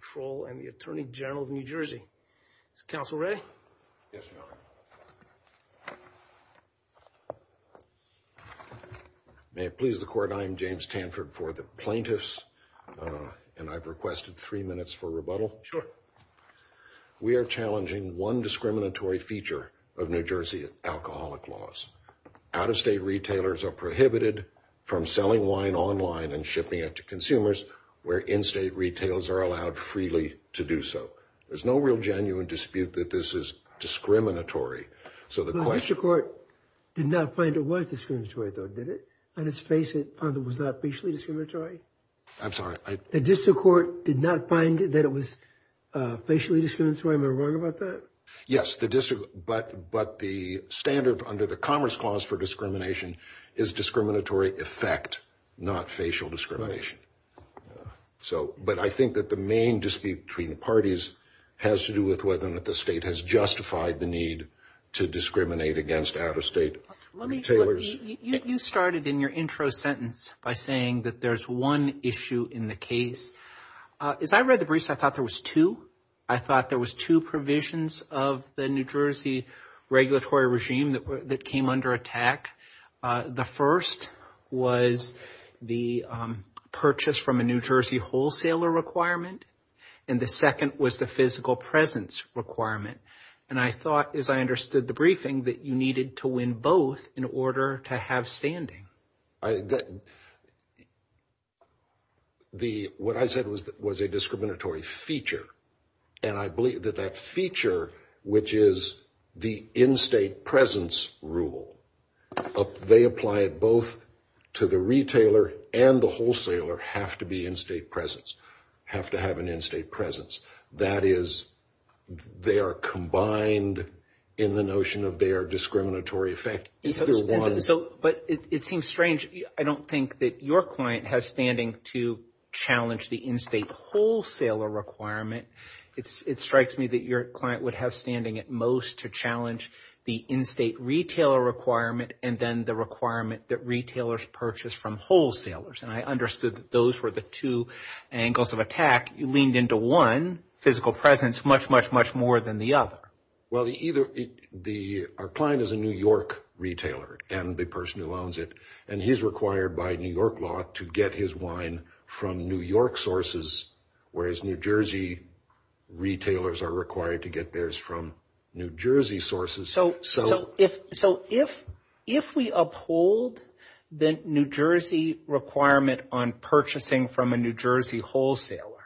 Control and the Attorney General of New Jersey. Is the Council ready? Yes, Your Honor. May it please the Court, I am James Tanford for the Plaintiffs and I've requested three minutes for rebuttal. We are challenging one discriminatory feature of New Jersey alcoholic laws. Out-of-state retailers are prohibited from selling wine online and shipping it to consumers where in-state retails are allowed freely to do so. There's no real genuine dispute that this is discriminatory. The District Court did not find it was discriminatory though, did it? Let's face it, it was not facially discriminatory? I'm sorry? The District Court did not find that it was facially discriminatory, am I wrong about that? Yes, but the standard under the Commerce Clause for discrimination is discriminatory effect, not facial discrimination. But I think that the main dispute between the parties has to do with whether or not the state has justified the need to discriminate against out-of-state retailers. You started in your intro sentence by saying that there's one issue in the case. As I read the briefs, I thought there was two. I thought there was two provisions of the New Jersey regulatory regime that came under attack. The first was the purchase from a New Jersey wholesaler requirement, and the second was the physical presence requirement. And I thought, as I understood the briefing, that you needed to win both in order to have standing. What I said was a discriminatory feature, and I believe that that feature, which is the in-state presence rule, they apply it both to the retailer and the wholesaler have to be in-state presence, have to have an in-state presence. That is, they are combined in the notion of they are discriminatory effect. But it seems strange. I don't think that your client has standing to challenge the in-state wholesaler requirement. It strikes me that your client would have standing at most to challenge the in-state retailer requirement and then the requirement that retailers purchase from wholesalers. And I understood that those were the two angles of attack. You leaned into one, physical presence, much, much, much more than the other. Well, our client is a New York retailer and the person who owns it, and he's required by New York law to get his wine from New York sources, whereas New Jersey retailers are required to get theirs from New Jersey sources. So if we uphold the New Jersey requirement on purchasing from a New Jersey wholesaler,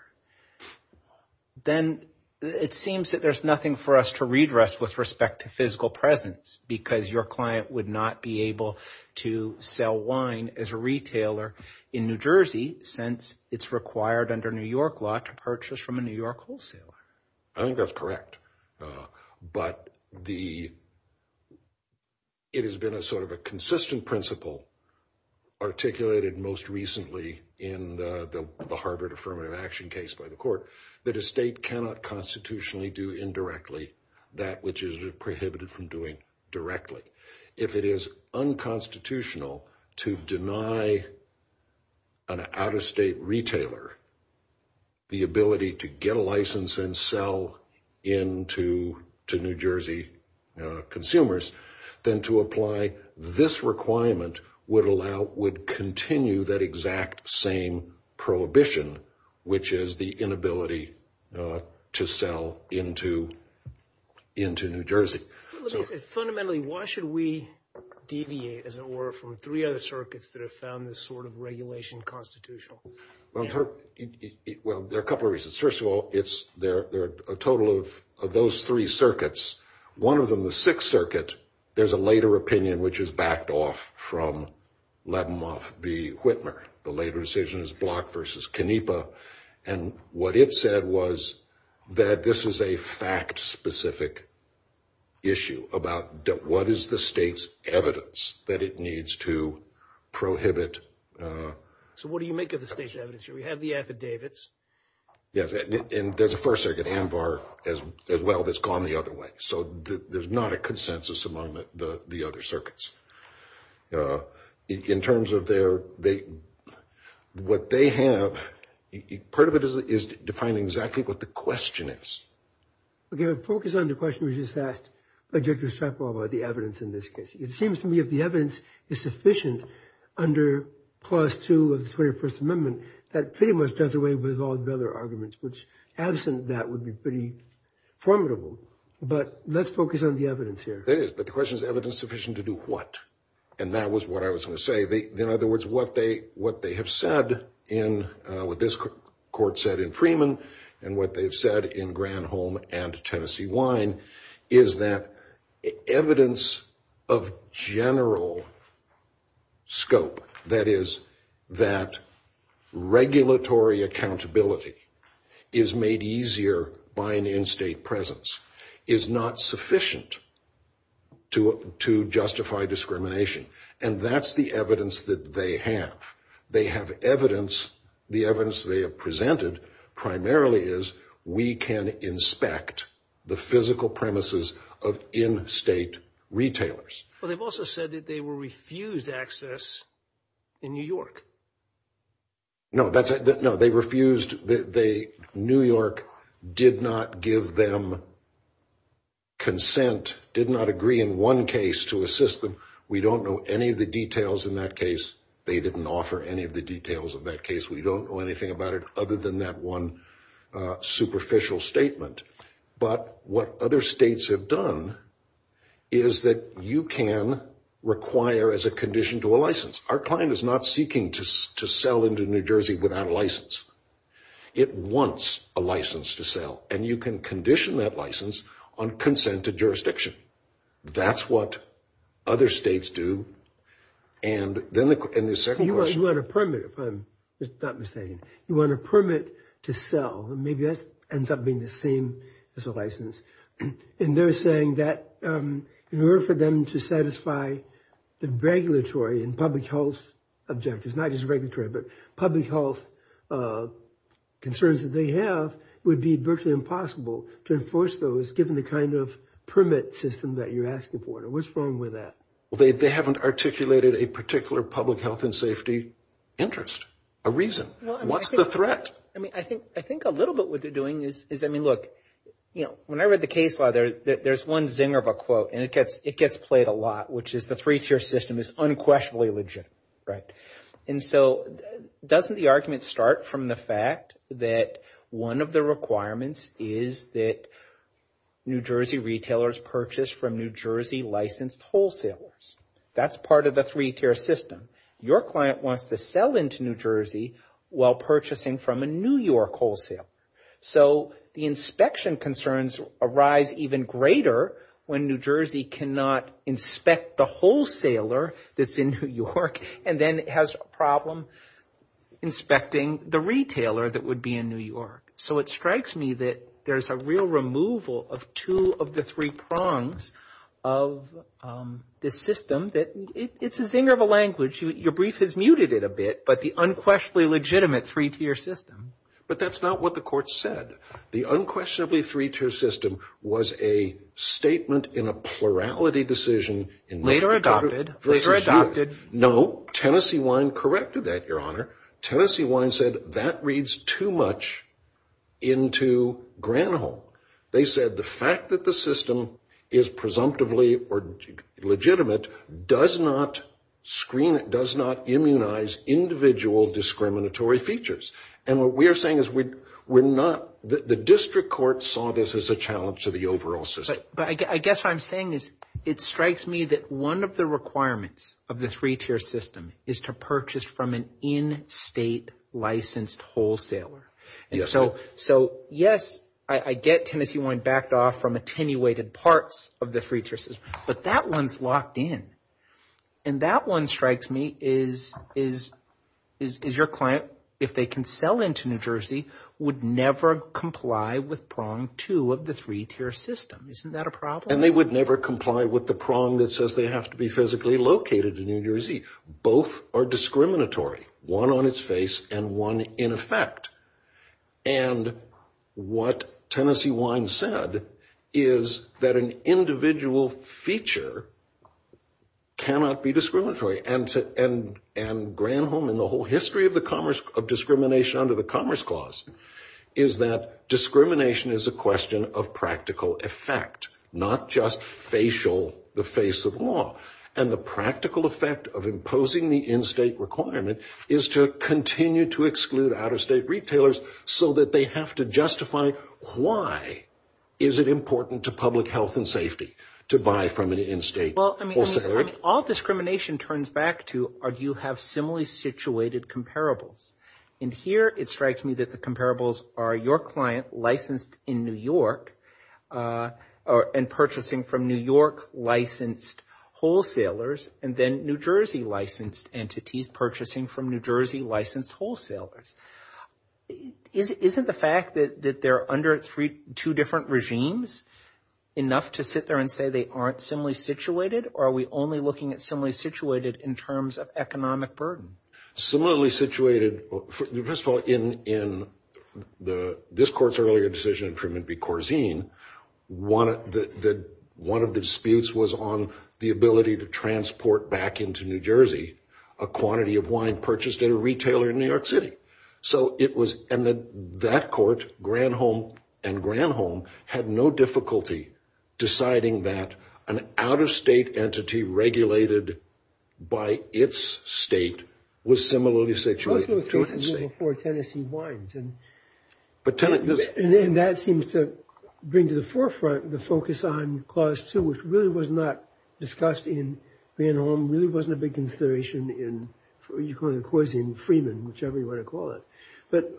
then it seems that there's nothing for us to redress with respect to physical presence because your client would not be able to sell wine as a retailer in New Jersey since it's required under New York law to purchase from a New York wholesaler. I think that's correct. But it has been a sort of a consistent principle articulated most recently in the Harvard Affirmative Action case by the court that a state cannot constitutionally do indirectly that which is prohibited from doing directly. If it is unconstitutional to deny an out-of-state retailer the ability to get a license and sell into New Jersey consumers, then to apply this requirement would continue that exact same prohibition, which is the inability to sell into New Jersey. Fundamentally, why should we deviate, as it were, from three other circuits that have found this sort of regulation constitutional? What is the state's evidence that it needs to prohibit? So what do you make of the state's evidence? We have the affidavits. Yes, and there's a first circuit, AMBAR, as well, that's gone the other way. So there's not a consensus among the other circuits. In terms of their, what they have, part of it is defining exactly what the question is. Okay, let's focus on the question we just asked by Director Strapwell about the evidence in this case. It seems to me if the evidence is sufficient under Clause 2 of the 21st Amendment, that pretty much does away with all the other arguments, which absent that would be pretty formidable. But let's focus on the evidence here. The question is, is the evidence sufficient to do what? And that was what I was going to say. In other words, what they have said in, what this court said in Freeman, and what they've said in Granholm and Tennessee Wine, is that evidence of general scope, that is, that regulatory accountability is made easier by an in-state presence, is not sufficient to justify discrimination. And that's the evidence that they have. They have evidence, the evidence they have presented primarily is, we can inspect the physical premises of in-state retailers. But they've also said that they will refuse access in New York. No, they refused, New York did not give them consent, did not agree in one case to assist them. We don't know any of the details in that case. They didn't offer any of the details of that case. We don't know anything about it other than that one superficial statement. But what other states have done is that you can require as a condition to a license. Our client is not seeking to sell into New Jersey without a license. It wants a license to sell, and you can condition that license on consent to jurisdiction. That's what other states do, and then the second question... You want a permit to sell, and maybe that ends up being the same as a license. And they're saying that in order for them to satisfy the regulatory and public health objectives, not just regulatory, but public health concerns that they have, it would be virtually impossible to enforce those given the kind of permit system that you're asking for. What's wrong with that? They haven't articulated a particular public health and safety interest, a reason. What's the threat? I think a little bit what they're doing is... When I read the case law, there's one zinger of a quote, and it gets played a lot, which is the three-tier system is unquestionably legit. And so doesn't the argument start from the fact that one of the requirements is that New Jersey retailers purchase from New Jersey licensed wholesalers? That's part of the three-tier system. Your client wants to sell into New Jersey while purchasing from a New York wholesaler. So the inspection concerns arise even greater when New Jersey cannot inspect the wholesaler that's in New York, and then it has a problem inspecting the retailer that would be in New York. So it strikes me that there's a real removal of two of the three prongs of this system. It's a zinger of a language. Your brief has muted it a bit, but the unquestionably legitimate three-tier system. But that's not what the court said. The unquestionably three-tier system was a statement in a plurality decision. Later adopted. No, Tennessee Wine corrected that, Your Honor. Tennessee Wine said that reads too much into Granholm. They said the fact that the system is presumptively legitimate does not immunize individual discriminatory features. And what we're saying is the district court saw this as a challenge to the overall system. But I guess what I'm saying is it strikes me that one of the requirements of the three-tier system is to purchase from an in-state licensed wholesaler. And so, yes, I get Tennessee Wine backed off from attenuated parts of the three-tier system, but that one's locked in. And that one strikes me is your client, if they can sell into New Jersey, would never comply with prong two of the three-tier system. Isn't that a problem? And they would never comply with the prong that says they have to be physically located in New Jersey. Both are discriminatory, one on its face and one in effect. And what Tennessee Wine said is that an individual feature cannot be discriminatory. And Granholm and the whole history of discrimination under the Commerce Clause is that discrimination is a question of practical effect, not just facial, the face of law. And the practical effect of imposing the in-state requirement is to continue to exclude out-of-state retailers so that they have to justify why is it important to public health and safety to buy from an in-state wholesaler. All discrimination turns back to do you have similarly situated comparables? And here it strikes me that the comparables are your client licensed in New York and purchasing from New York licensed wholesalers, and then New Jersey licensed entities purchasing from New Jersey licensed wholesalers. Isn't the fact that they're under two different regimes enough to sit there and say they aren't similarly situated? Or are we only looking at similarly situated in terms of economic burden? Similarly situated, first of all, in this court's earlier decision in Tremendous Corzine, one of the disputes was on the ability to transport back into New Jersey a quantity of wine purchased at a retailer in New York City. And that court, Granholm and Granholm, had no difficulty deciding that an out-of-state entity regulated by its state was similarly situated. And that seems to bring to the forefront the focus on Clause 2, which really was not discussed in Granholm, really wasn't a big consideration in Economic Corzine, Freeman, whichever you want to call it. But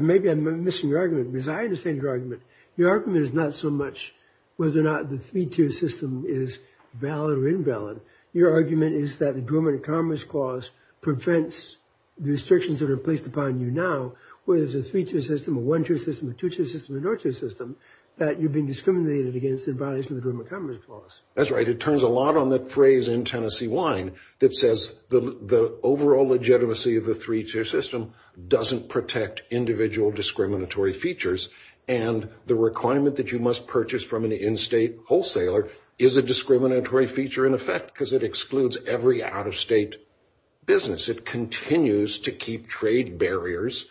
maybe I'm missing your argument, because I understand your argument. Your argument is not so much whether or not the 3-2 system is valid or invalid. Your argument is that the Grooming and Commerce Clause prevents the restrictions that are placed upon you now, whether it's a 3-2 system, a 1-2 system, a 2-2 system, or a 0-2 system, that you've been discriminated against in violation of the Grooming and Commerce Clause. That's right. It turns a lot on that phrase in Tennessee Wine that says the overall legitimacy of the 3-2 system doesn't protect individual discriminatory features. And the requirement that you must purchase from an in-state wholesaler is a discriminatory feature in effect, because it excludes every out-of-state business. It continues to keep trade barriers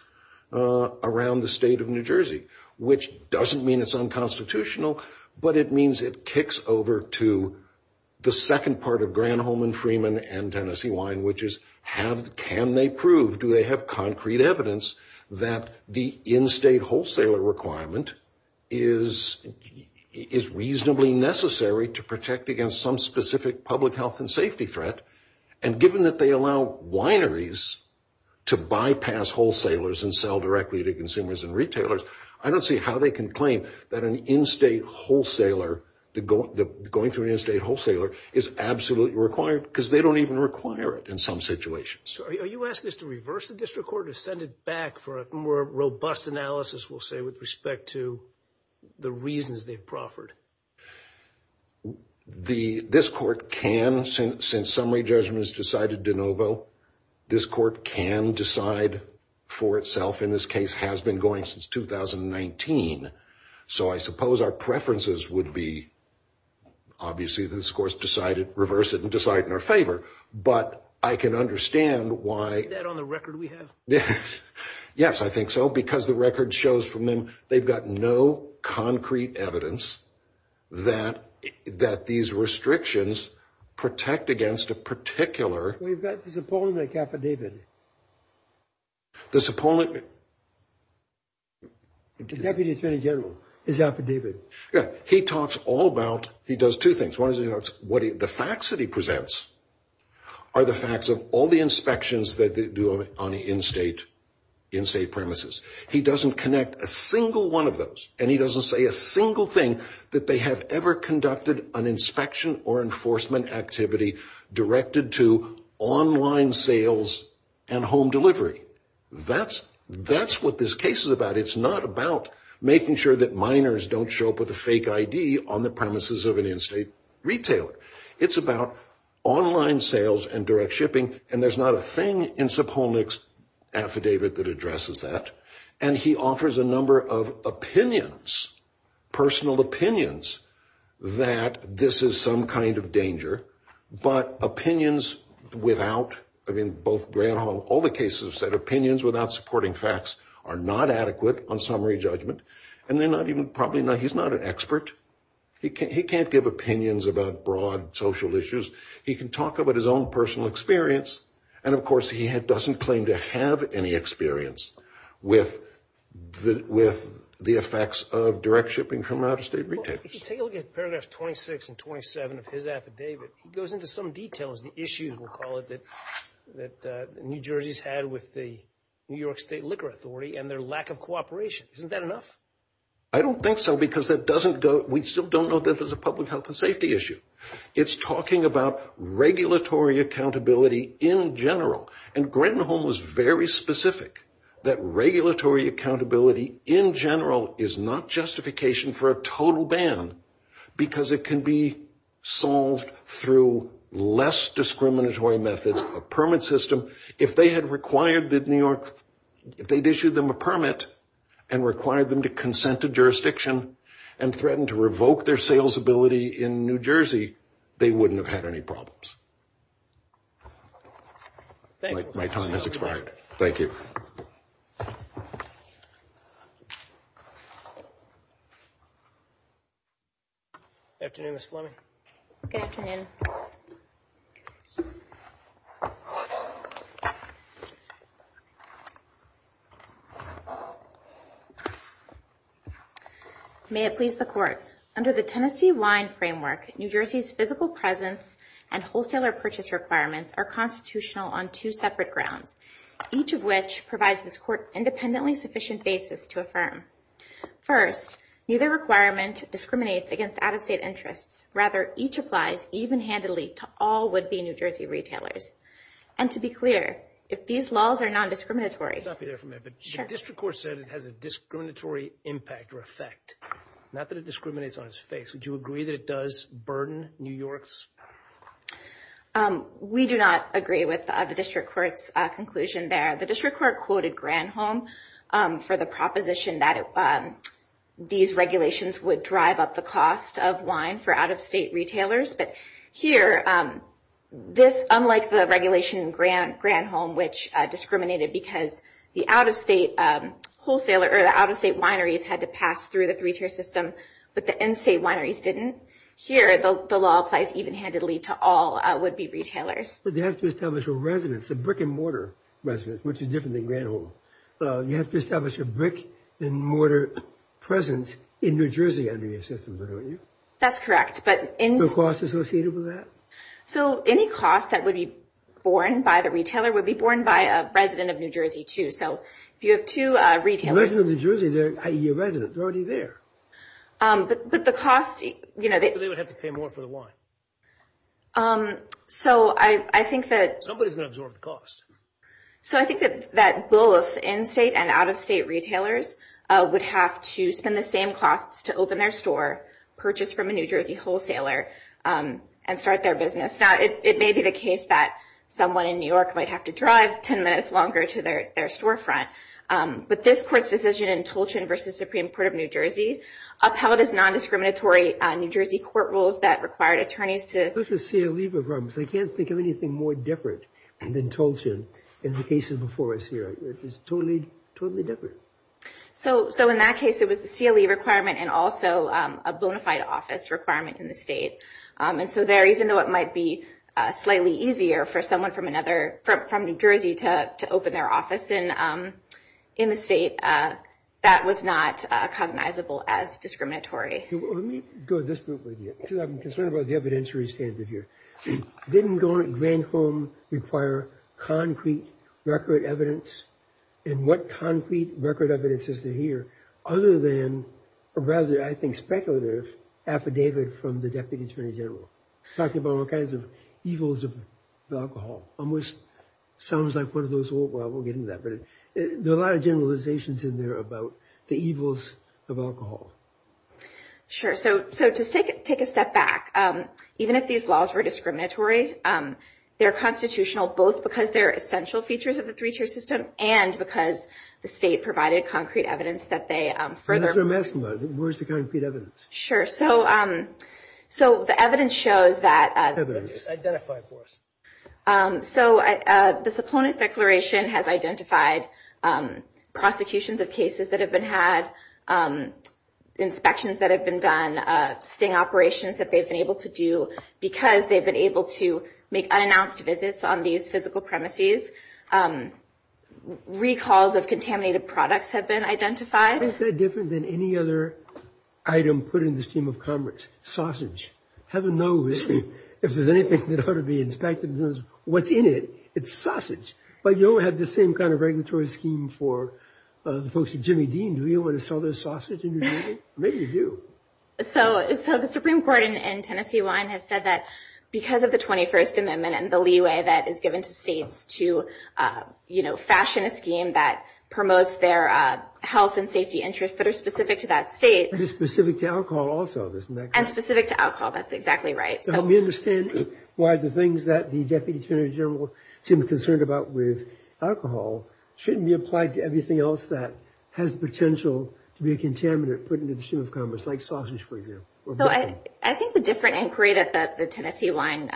around the state of New Jersey, which doesn't mean it's unconstitutional, but it means it kicks over to the second part of Granholm and Freeman and Tennessee Wine, which is can they prove, do they have concrete evidence that the in-state wholesaler requirement is reasonably necessary to protect against some specific public health and safety threat? And given that they allow wineries to bypass wholesalers and sell directly to consumers and retailers, I don't see how they can claim that going through an in-state wholesaler is absolutely required, because they don't even require it in some situations. So are you asking us to reverse the district court or send it back for a more robust analysis, we'll say, with respect to the reasons they've proffered? This court can, since some way judgment is decided de novo, this court can decide for itself, and this case has been going since 2019. So I suppose our preferences would be, obviously this court's decided, reverse it and decide in our favor, but I can understand why... Is that on the record we have? Yes, I think so, because the record shows from them they've got no concrete evidence that these restrictions protect against a particular... We've got this appointment with Captain David. This appointment... The Deputy Attorney General is out for David. Yeah, he talks all about, he does two things. One is he talks, the facts that he presents are the facts of all the inspections that they do on the in-state premises. He doesn't connect a single one of those, and he doesn't say a single thing that they have ever conducted an inspection or enforcement activity directed to online sales and home delivery. That's what this case is about. It's not about making sure that minors don't show up with a fake ID on the premises of an in-state retailer. It's about online sales and direct shipping, and there's not a thing in Sopolnik's affidavit that addresses that. And he offers a number of opinions, personal opinions, that this is some kind of danger, but opinions without... I mean, both Gray and Hong, all the cases have said opinions without supporting facts are not adequate on summary judgment, and they're not even... Probably not. He's not an expert. He can't give opinions about broad social issues. He can talk about his own personal experience, and of course he doesn't claim to have any experience with the effects of direct shipping from out-of-state retailers. If you take a look at paragraphs 26 and 27 of his affidavit, he goes into some details and issues, we'll call it, that New Jersey's had with the New York State Liquor Authority and their lack of cooperation. Isn't that enough? I don't think so because that doesn't go... We still don't know that there's a public health and safety issue. It's talking about regulatory accountability in general, and Gray and Hong was very specific that regulatory accountability in general is not justification for a total ban because it can be solved through less discriminatory methods, a permit system. If they had required that New York... If they'd issued them a permit and required them to consent to jurisdiction and threatened to revoke their sales ability in New Jersey, they wouldn't have had any problems. Thank you. My time has expired. Good afternoon, Ms. Fleming. Good afternoon. May it please the Court. Under the Tennessee wine framework, New Jersey's physical presence and wholesaler purchase requirements are constitutional on two separate grounds, each of which provides this Court independently sufficient basis to affirm. First, neither requirement discriminates against out-of-state interests. Rather, each applies even-handedly to all would-be New Jersey retailers. And to be clear, if these laws are non-discriminatory... The district court said it has a discriminatory impact or effect, not that it discriminates on its face. Would you agree that it does burden New York's... We do not agree with the district court's conclusion there. The district court quoted Granholm for the proposition that these regulations would drive up the cost of wine for out-of-state retailers. But here, unlike the regulation in Granholm, which discriminated because the out-of-state wineries had to pass through the three-tier system, but the in-state wineries didn't, here the law applies even-handedly to all would-be retailers. But they have to establish a residence, a brick-and-mortar residence, which is different than Granholm. You have to establish a brick-and-mortar presence in New Jersey under your system, don't you? That's correct, but... Is there a cost associated with that? So any cost that would be borne by the retailer would be borne by a resident of New Jersey, too. So if you have two retailers... A resident of New Jersey, i.e. a resident, is already there. But the cost... They would have to pay more for the wine. So I think that... Nobody's going to absorb the cost. So I think that both in-state and out-of-state retailers would have to spend the same cost to open their store, purchase from a New Jersey wholesaler, and start their business. Now, it may be the case that someone in New York might have to drive ten minutes longer to their storefront. But this court's decision in Tolchan v. Supreme Court of New Jersey upheld its nondiscriminatory New Jersey court rules that required attorneys to... Those were CLE requirements. I can't think of anything more different than Tolchan in the cases before us here. It was totally, totally different. So in that case, it was a CLE requirement and also a bonafide office requirement in the state. And so there, even though it might be slightly easier for someone from New Jersey to open their office in the state, that was not cognizable as discriminatory. Let me go to this group right here. I'm concerned about the evidentiary standard here. Didn't going to Greenholme require concrete record evidence? And what concrete record evidence is there here other than, or rather I think speculative, affidavit from the Deputy Attorney General? Talking about all kinds of evils of alcohol. Almost sounds like one of those old... Well, I won't get into that. There are a lot of generalizations in there about the evils of alcohol. So to take a step back, even if these laws were discriminatory, they're constitutional both because they're essential features of the three-tier system and because the state provided concrete evidence that they further... Where's the concrete evidence? Sure. So the evidence shows that... Identify for us. So this opponent's declaration has identified prosecutions of cases that have been had, inspections that have been done, sting operations that they've been able to do because they've been able to make unannounced visits on these physical premises. Recalls of contaminated products have been identified. Isn't that different than any other item put in this team of comrades? Sausage. Have a nose. If there's anything that ought to be inspected, it's what's in it. It's sausage. But you don't have the same kind of regulatory scheme for the folks at Jimmy Dean. Do we want to sell their sausage in New Jersey? Maybe you do. So the Supreme Court in Tennessee line has said that because of the 21st Amendment and the leeway that is given to states to fashion a scheme that promotes their health and safety interests that are specific to that state... Which is specific to alcohol also, isn't it? And specific to alcohol. That's exactly right. Help me understand why the things that the Deputy Attorney General seems concerned about with alcohol shouldn't be applied to everything else that has the potential to be a contaminant put into the team of comrades, like sausage, for example. I think the different inquiry that the Tennessee line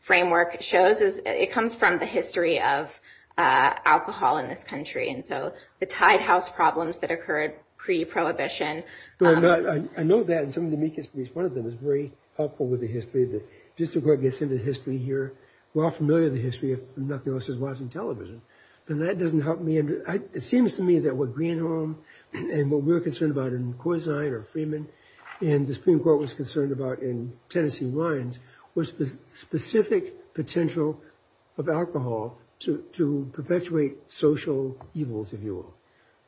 framework shows is it comes from the history of alcohol in this country. And so the Tide House problems that occurred pre-prohibition... I know that in some of the meek histories, one of them is very helpful with the history. The District Court gets into history here. We're all familiar with the history of nothing else as well as in television. And that doesn't help me. It seems to me that what Greenholm and what we're concerned about in Korzine or Freeman and the Supreme Court was concerned about in Tennessee lines was the specific potential of alcohol to perpetuate social evils, if you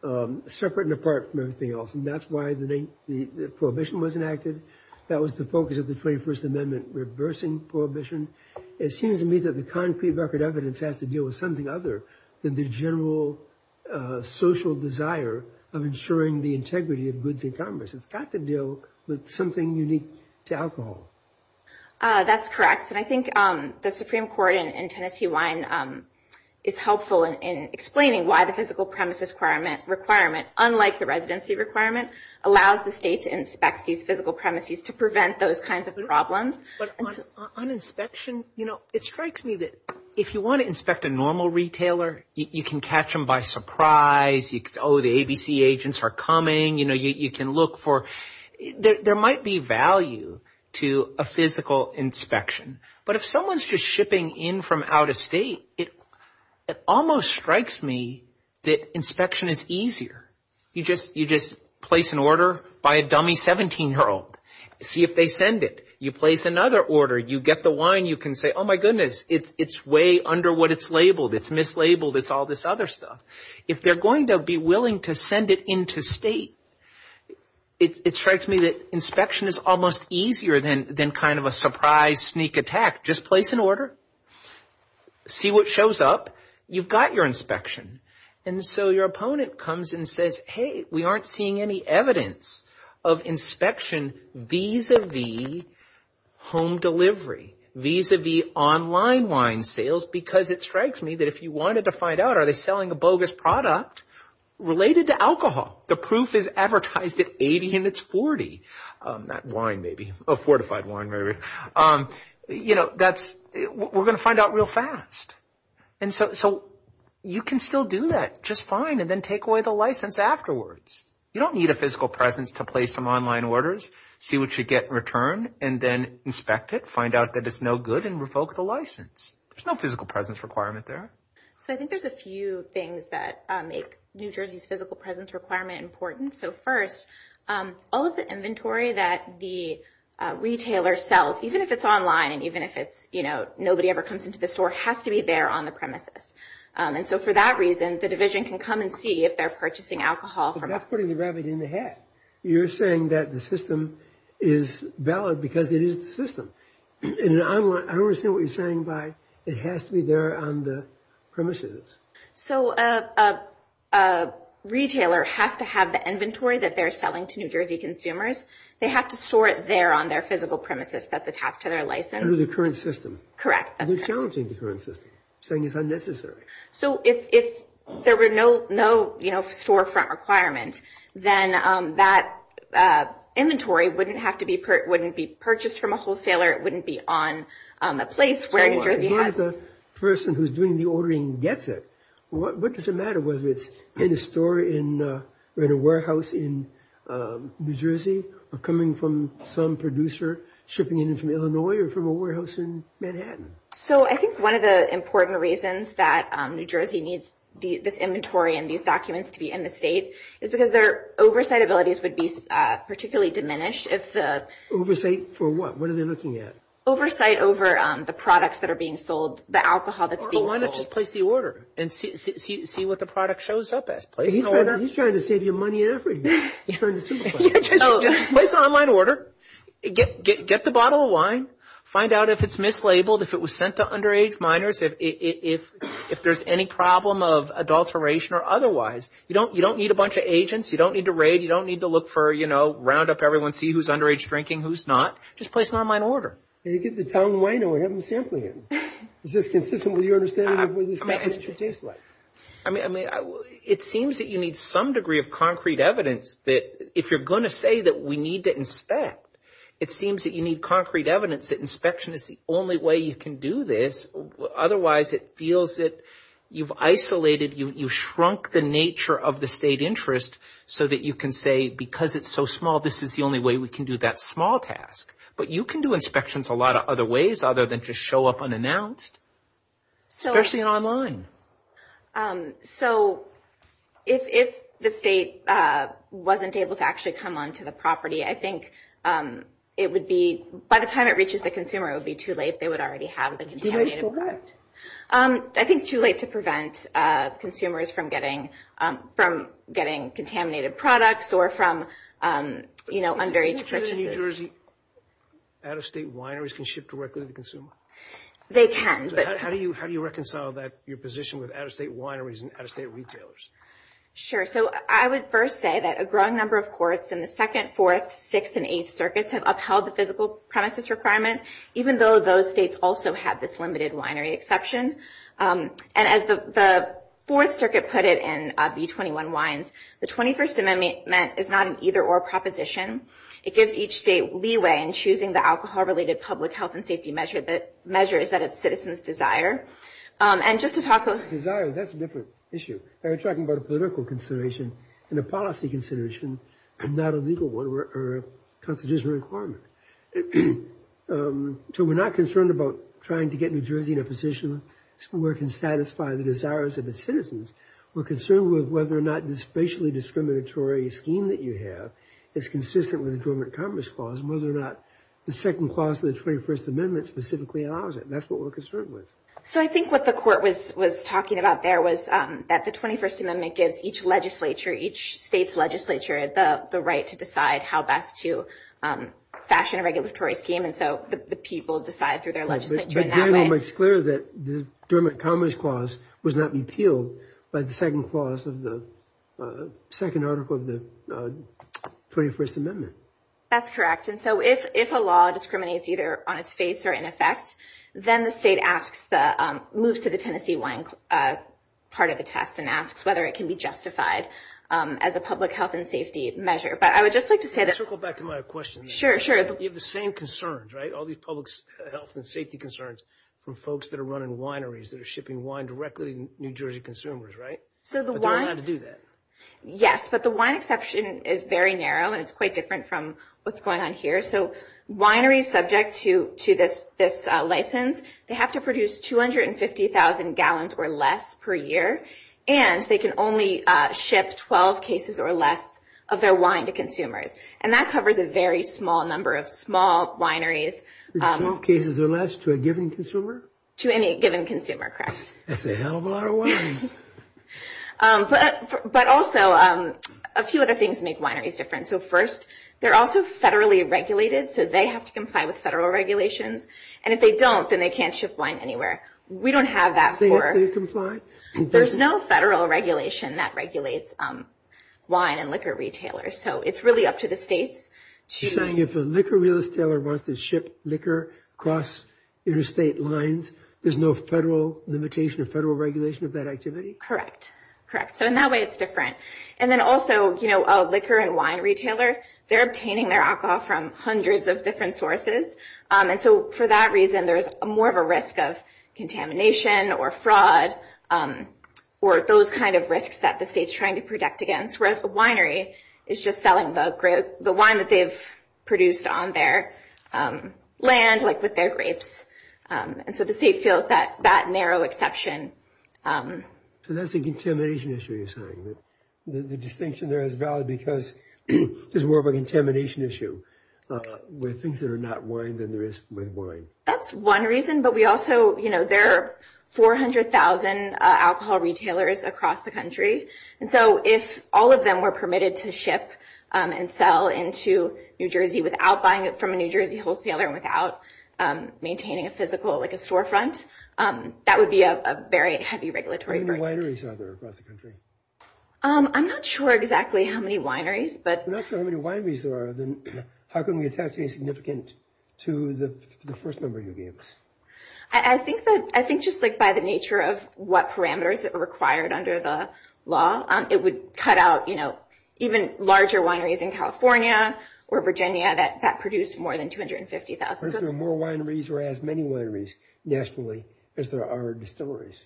will. Separate and apart from everything else. And that's why the prohibition was enacted. That was the focus of the 21st Amendment, reversing prohibition. It seems to me that the concrete record evidence has to deal with something other than the general social desire of ensuring the integrity of goods in commerce. It's got to deal with something unique to alcohol. That's correct. And I think the Supreme Court in Tennessee line is helpful in explaining why the physical premises requirement, unlike the residency requirement, allows the state to inspect these physical premises to prevent those kinds of problems. On inspection, you know, it strikes me that if you want to inspect a normal retailer, you can catch them by surprise. Oh, the ABC agents are coming. You know, you can look for – there might be value to a physical inspection. But if someone's just shipping in from out of state, it almost strikes me that inspection is easier. You just place an order, buy a dummy 17-year-old, see if they send it. You place another order. You get the wine. You can say, oh, my goodness, it's way under what it's labeled. It's mislabeled. It's all this other stuff. If they're going to be willing to send it into state, it strikes me that inspection is almost easier than kind of a surprise sneak attack. Just place an order, see what shows up. You've got your inspection. And so your opponent comes and says, hey, we aren't seeing any evidence of inspection vis-à-vis home delivery, vis-à-vis online wine sales because it strikes me that if you wanted to find out, are they selling a bogus product related to alcohol? The proof is advertised at 80 and it's 40, that wine maybe, a fortified wine maybe. You know, we're going to find out real fast. And so you can still do that just fine and then take away the license afterwards. You don't need a physical presence to place some online orders, see what you get in return, and then inspect it, find out that it's no good, and revoke the license. There's no physical presence requirement there. So I think there's a few things that make New Jersey's physical presence requirement important. So first, all of the inventory that the retailer sells, even if it's online, even if it's, you know, nobody ever comes into the store, has to be there on the premises. And so for that reason, the division can come and see if they're purchasing alcohol from us. But that's putting the rabbit in the hat. You're saying that the system is valid because it is the system. I don't understand what you're saying by it has to be there on the premises. So a retailer has to have the inventory that they're selling to New Jersey consumers. They have to store it there on their physical premises at the top to their license. Under the current system. Correct. They're challenging the current system, saying it's unnecessary. So if there were no, you know, storefront requirement, then that inventory wouldn't be purchased from a wholesaler. It wouldn't be on a place where New Jersey has it. So here's a person who's doing the ordering and gets it. What does it matter whether it's in a store or in a warehouse in New Jersey or coming from some producer shipping it in from Illinois or from a warehouse in Manhattan? So I think one of the important reasons that New Jersey needs this inventory and these documents to be in the state is because their oversight abilities would be particularly diminished. Oversight for what? What are they looking at? Oversight over the products that are being sold, the alcohol that's being sold. Why not just place the order and see what the product shows up as? He's trying to save you money and effort. Just place an online order. Get the bottle of wine. Find out if it's mislabeled, if it was sent to underage minors, if there's any problem of adulteration or otherwise. You don't need a bunch of agents. You don't need to raid. You don't need to look for, you know, round up everyone, see who's underage drinking, who's not. Just place an online order. You get the towel and wine and we have them sampling it. Is this consistent with your understanding of what this package should taste like? I mean, it seems that you need some degree of concrete evidence that if you're going to say that we need to inspect, it seems that you need concrete evidence that inspection is the only way you can do this. Otherwise, it feels that you've isolated, you've shrunk the nature of the state interest so that you can say, because it's so small, this is the only way we can do that small task. But you can do inspections a lot of other ways other than just show up unannounced, especially online. So if the state wasn't able to actually come on to the property, I think it would be, by the time it reaches the consumer, it would be too late. They would already have the contaminated product. I think it's too late to prevent consumers from getting contaminated products or from, you know, underage. Can you say that New Jersey out-of-state wineries can ship directly to the consumer? They can. How do you reconcile that, your position with out-of-state wineries and out-of-state retailers? Sure. So I would first say that a growing number of courts in the Second, Fourth, Sixth, and Eighth Circuits have upheld the physical premises requirement, even though those states also have this limited winery exception. And as the Fourth Circuit put it in B-21 Wines, the 21st Amendment is not an either-or proposition. It gives each state leeway in choosing the alcohol-related public health and safety measures that its citizens desire. And just to talk about desire, that's a different issue. We're talking about a political consideration and a policy consideration, not a legal one or a constitutional requirement. So we're not concerned about trying to get New Jersey in a position where it can satisfy the desires of its citizens. We're concerned with whether or not this racially discriminatory scheme that you have is consistent with the 21st Amendment specifically allows it. That's what we're concerned with. So I think what the court was talking about there was that the 21st Amendment gives each legislature, each state's legislature, the right to decide how best to fashion a regulatory scheme, and so the people decide through their legislature in that way. But then it makes clear that the Dermot Cummings Clause was not repealed by the second clause of the second article of the 21st Amendment. That's correct. And so if a law discriminates either on its face or in effect, then the state moves to the Tennessee wine part of the test and asks whether it can be justified as a public health and safety measure. But I would just like to say that you have the same concerns, right, all these public health and safety concerns from folks that are running wineries, that are shipping wine directly to New Jersey consumers, right? But they don't know how to do that. Yes, but the wine exception is very narrow and it's quite different from what's going on here. So wineries subject to this license, they have to produce 250,000 gallons or less per year, and they can only ship 12 cases or less of their wine to consumers. And that covers a very small number of small wineries. 12 cases or less to a given consumer? To any given consumer, correct. That's a hell of a lot of wine. But also, a few other things make wineries different. So first, they're also federally regulated, so they have to comply with federal regulations. And if they don't, then they can't ship wine anywhere. We don't have that for- They have to comply? There's no federal regulation that regulates wine and liquor retailers. So it's really up to the state to- You're saying if a liquor retailer wants to ship liquor across interstate lines, there's no federal limitation or federal regulation of that activity? Correct. Correct. So in that way, it's different. And then also, a liquor and wine retailer, they're obtaining their alcohol from hundreds of different sources. And so for that reason, there's more of a risk of contamination or fraud or those kind of risks that the state's trying to protect against, whereas the winery is just selling the wine that they've produced on their land, like with their grapes. And so the state feels that narrow exception. So that's a contamination issue, you're saying? The distinction there is valid because there's more of a contamination issue with things that are not wine than there is with wine. That's one reason, but we also- There are 400,000 alcohol retailers across the country. And so if all of them were permitted to ship and sell into New Jersey without buying it from a New Jersey wholesaler and without maintaining a physical storefront, that would be a very heavy regulatory burden. How many wineries are there across the country? I'm not sure exactly how many wineries, but- If you're not sure how many wineries there are, then how can we attach any significance to the first number you gave us? I think just by the nature of what parameters are required under the law, it would cut out even larger wineries in California or Virginia that produce more than 250,000. What if there were more wineries or as many wineries nationally as there are distilleries?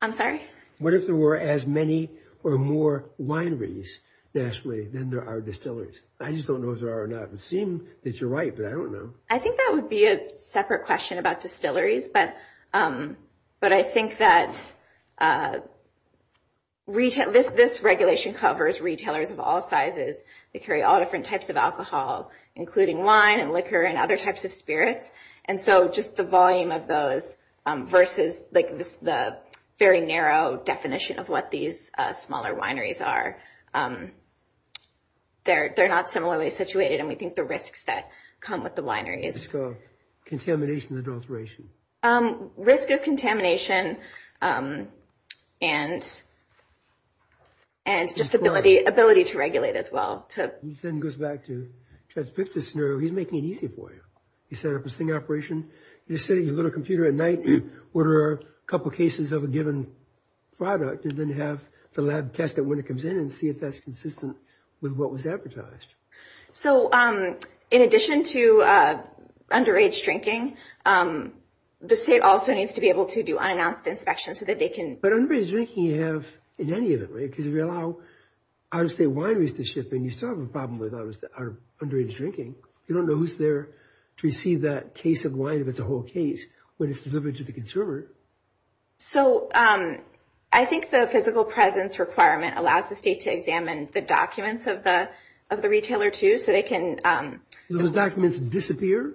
I'm sorry? What if there were as many or more wineries nationally than there are distilleries? I just don't know if there are or not. It would seem that you're right, but I don't know. I think that would be a separate question about distilleries, but I think that this regulation covers retailers of all sizes. They carry all different types of alcohol, including wine and liquor and other types of spirits, and so just the volume of those versus the very narrow definition of what these smaller wineries are. They're not similarly situated, and we think the risks that come with the wineries- What's the risk of contamination and adulteration? Risk of contamination and just ability to regulate as well. This then goes back to Chaz Pift's scenario. He's making it easy for you. He set up this thing operation. You just sit at your little computer at night, order a couple cases of a given product, and then have the lab test it when it comes in and see if that's consistent with what was advertised. In addition to underage drinking, the state also needs to be able to do unannounced inspections so that they can- But underage drinking you have in any of them, right? Because if you allow out-of-state wineries to ship and you still have a problem with our underage drinking, you don't know who's there to receive that case of wine if it's a whole case, when it's delivered to the consumer. I think the physical presence requirement allows the state to examine the documents of the retailer, too, so they can- Do those documents disappear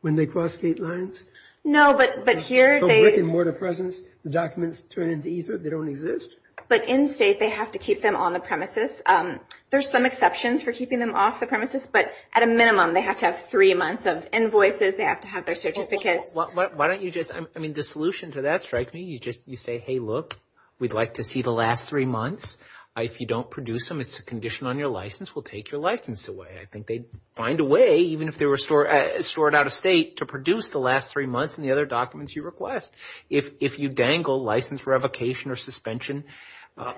when they cross state lines? No, but here they- So brick and mortar presence, the documents turn into ether? They don't exist? But in-state, they have to keep them on the premises. There's some exceptions for keeping them off the premises, but at a minimum, they have to have three months of invoices. They have to have their certificate. Why don't you just- I mean, the solution to that strikes me. You say, hey, look, we'd like to see the last three months. If you don't produce them, it's a condition on your license. We'll take your license away. I think they'd find a way, even if they were stored out-of-state, to produce the last three months and the other documents you request. If you dangle license revocation or suspension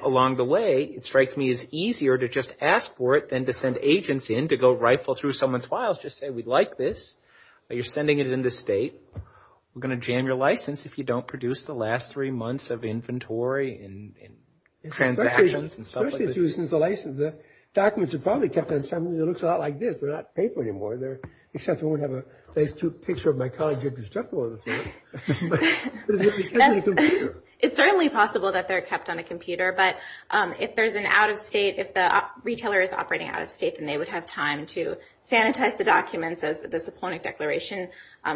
along the way, it strikes me as easier to just ask for it than to send agents in to go rifle through someone's files. Just say, we'd like this. You're sending it into-state. We're going to jam your license if you don't produce the last three months of inventory and transactions and stuff like this. The documents are probably kept on something that looks a lot like this. They're not paper anymore. They're-except I won't have a nice picture of my college entrance checkbook. It's certainly possible that they're kept on a computer, but if there's an out-of-state-if the retailer is operating out-of-state and they would have time to sanitize the documents, as the point declaration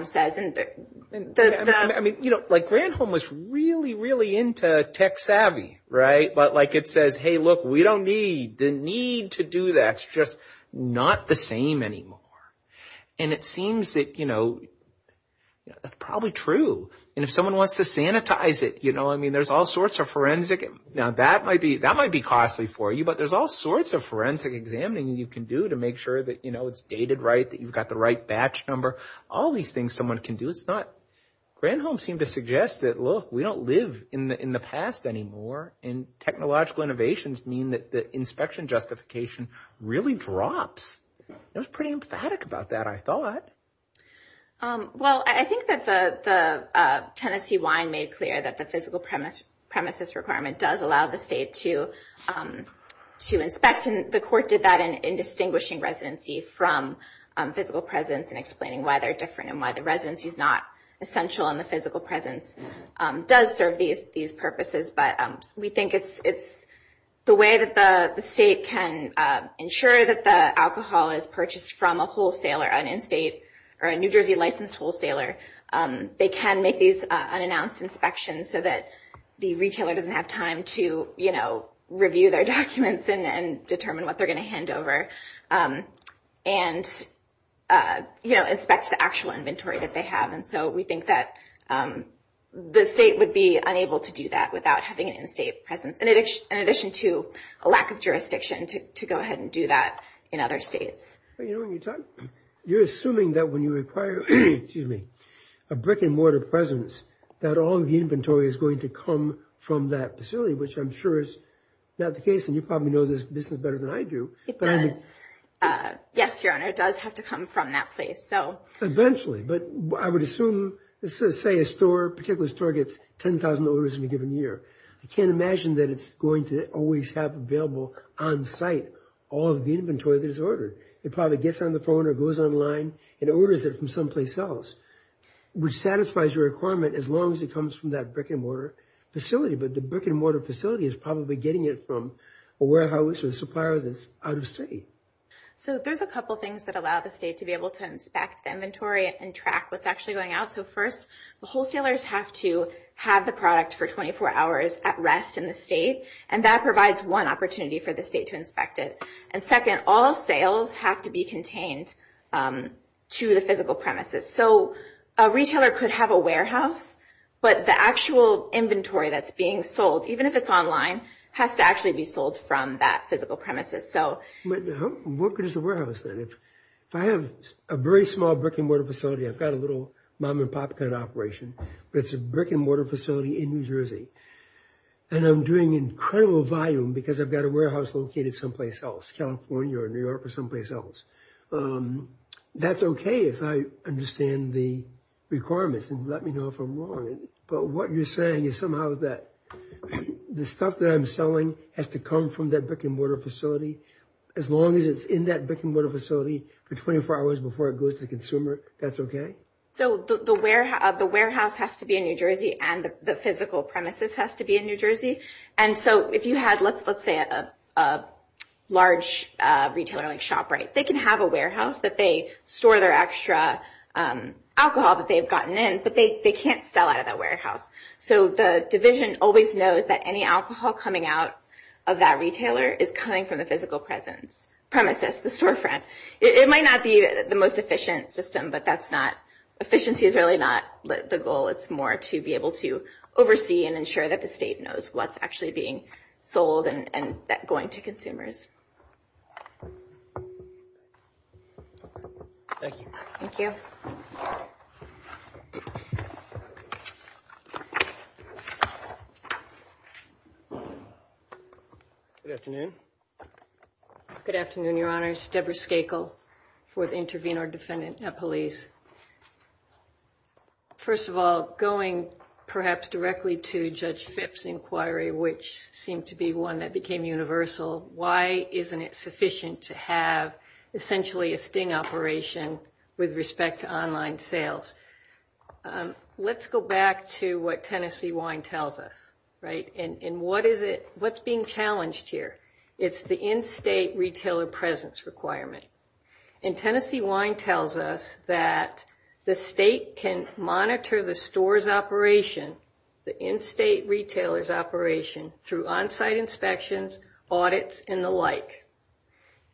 says. I mean, you know, like Granholm was really, really into tech savvy, right? Like it said, hey, look, we don't need-the need to do that's just not the same anymore. And it seems that, you know, that's probably true. And if someone wants to sanitize it, you know, I mean, there's all sorts of forensic-now, that might be costly for you, but there's all sorts of forensic examining you can do to make sure that, you know, it's dated right, that you've got the right batch number, all these things someone can do. It's not-Granholm seemed to suggest that, look, we don't live in the past anymore and technological innovations mean that the inspection justification really drops. It was pretty emphatic about that, I thought. Well, I think that the tenancy line made clear that the physical premises requirement does allow the state to inspect. And the court did that in distinguishing residency from physical presence and explaining why they're different and why the residency is not essential and the physical presence does serve these purposes. But we think it's the way that the state can ensure that the alcohol is purchased from a wholesaler, an in-state or a New Jersey-licensed wholesaler, they can make these unannounced inspections so that the retailer doesn't have time to, you know, review their documents and determine what they're going to hand over and, you know, inspect the actual inventory that they have. And so we think that the state would be unable to do that without having an in-state presence in addition to a lack of jurisdiction to go ahead and do that in other states. You're assuming that when you require a brick-and-mortar presence that all of the inventory is going to come from that facility, which I'm sure is not the case and you probably know this business better than I do. Yes, Your Honor, it does have to come from that place. Eventually, but I would assume, let's say a store, a particular store gets 10,000 orders in a given year. I can't imagine that it's going to always have available on-site all of the inventory that is ordered. It probably gets on the phone or goes online and orders it from someplace else, which satisfies your requirement as long as it comes from that brick-and-mortar facility. But the brick-and-mortar facility is probably getting it from a warehouse or a supplier that's out of state. There's a couple of things that allow the state to be able to inspect the inventory and track what's actually going out. First, the wholesalers have to have the product for 24 hours at rest in the state, and that provides one opportunity for the state to inspect it. Second, all sales have to be contained to the physical premises. A retailer could have a warehouse, but the actual inventory that's being sold, even if it's online, has to actually be sold from that physical premises. What could a warehouse say? If I have a very small brick-and-mortar facility, I've got a little mom-and-pop kind of operation, but it's a brick-and-mortar facility in New Jersey, and I'm doing incredible volume because I've got a warehouse located someplace else, California or New York or someplace else. That's okay if I understand the requirements and let me know if I'm wrong, but what you're saying is somehow that the stuff that I'm selling has to come from that brick-and-mortar facility as long as it's in that brick-and-mortar facility for 24 hours before it goes to the consumer, that's okay? The warehouse has to be in New Jersey, and the physical premises has to be in New Jersey. If you had, let's say, a large retailing shop, they can have a warehouse that they store their extra alcohol that they've gotten in, but they can't sell out of that warehouse. So the division always knows that any alcohol coming out of that retailer is coming from the physical premises, the storefront. It might not be the most efficient system, but efficiency is really not the goal. It's more to be able to oversee and ensure that the state knows what's actually being sold and going to consumers. Thank you. Thank you. Good afternoon. Good afternoon, Your Honors. Deborah Skakel, Fourth Intervenor Defendant at Police. First of all, going perhaps directly to Judge Phipps' inquiry, which seemed to be one that became universal, why isn't it sufficient to have essentially a sting operation with respect to online sales? Let's go back to what Tennessee Wine tells us, right? And what's being challenged here? It's the in-state retailer presence requirement. And Tennessee Wine tells us that the state can monitor the store's operation, the in-state retailer's operation, through on-site inspections, audits, and the like.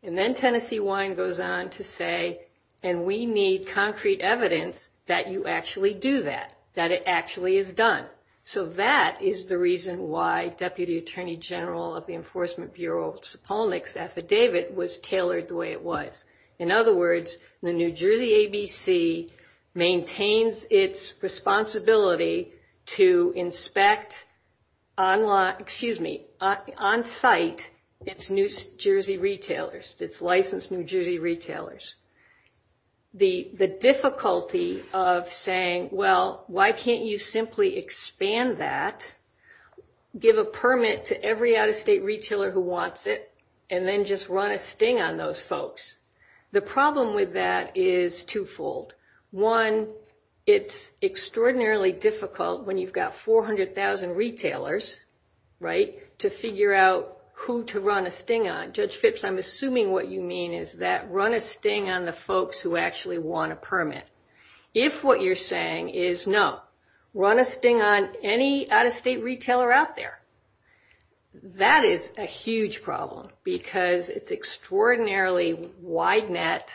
And then Tennessee Wine goes on to say, and we need concrete evidence that you actually do that, that it actually is done. So that is the reason why Deputy Attorney General of the Enforcement Bureau's Olnick's affidavit was tailored the way it was. In other words, the New Jersey ABC maintains its responsibility to inspect on-site its New Jersey retailers, its licensed New Jersey retailers. The difficulty of saying, well, why can't you simply expand that, give a permit to every out-of-state retailer who wants it, and then just run a sting on those folks? The problem with that is twofold. One, it's extraordinarily difficult when you've got 400,000 retailers, right, to figure out who to run a sting on. Judge Phipps, I'm assuming what you mean is that run a sting on the folks who actually want a permit. If what you're saying is no, run a sting on any out-of-state retailer out there, that is a huge problem because it's extraordinarily wide net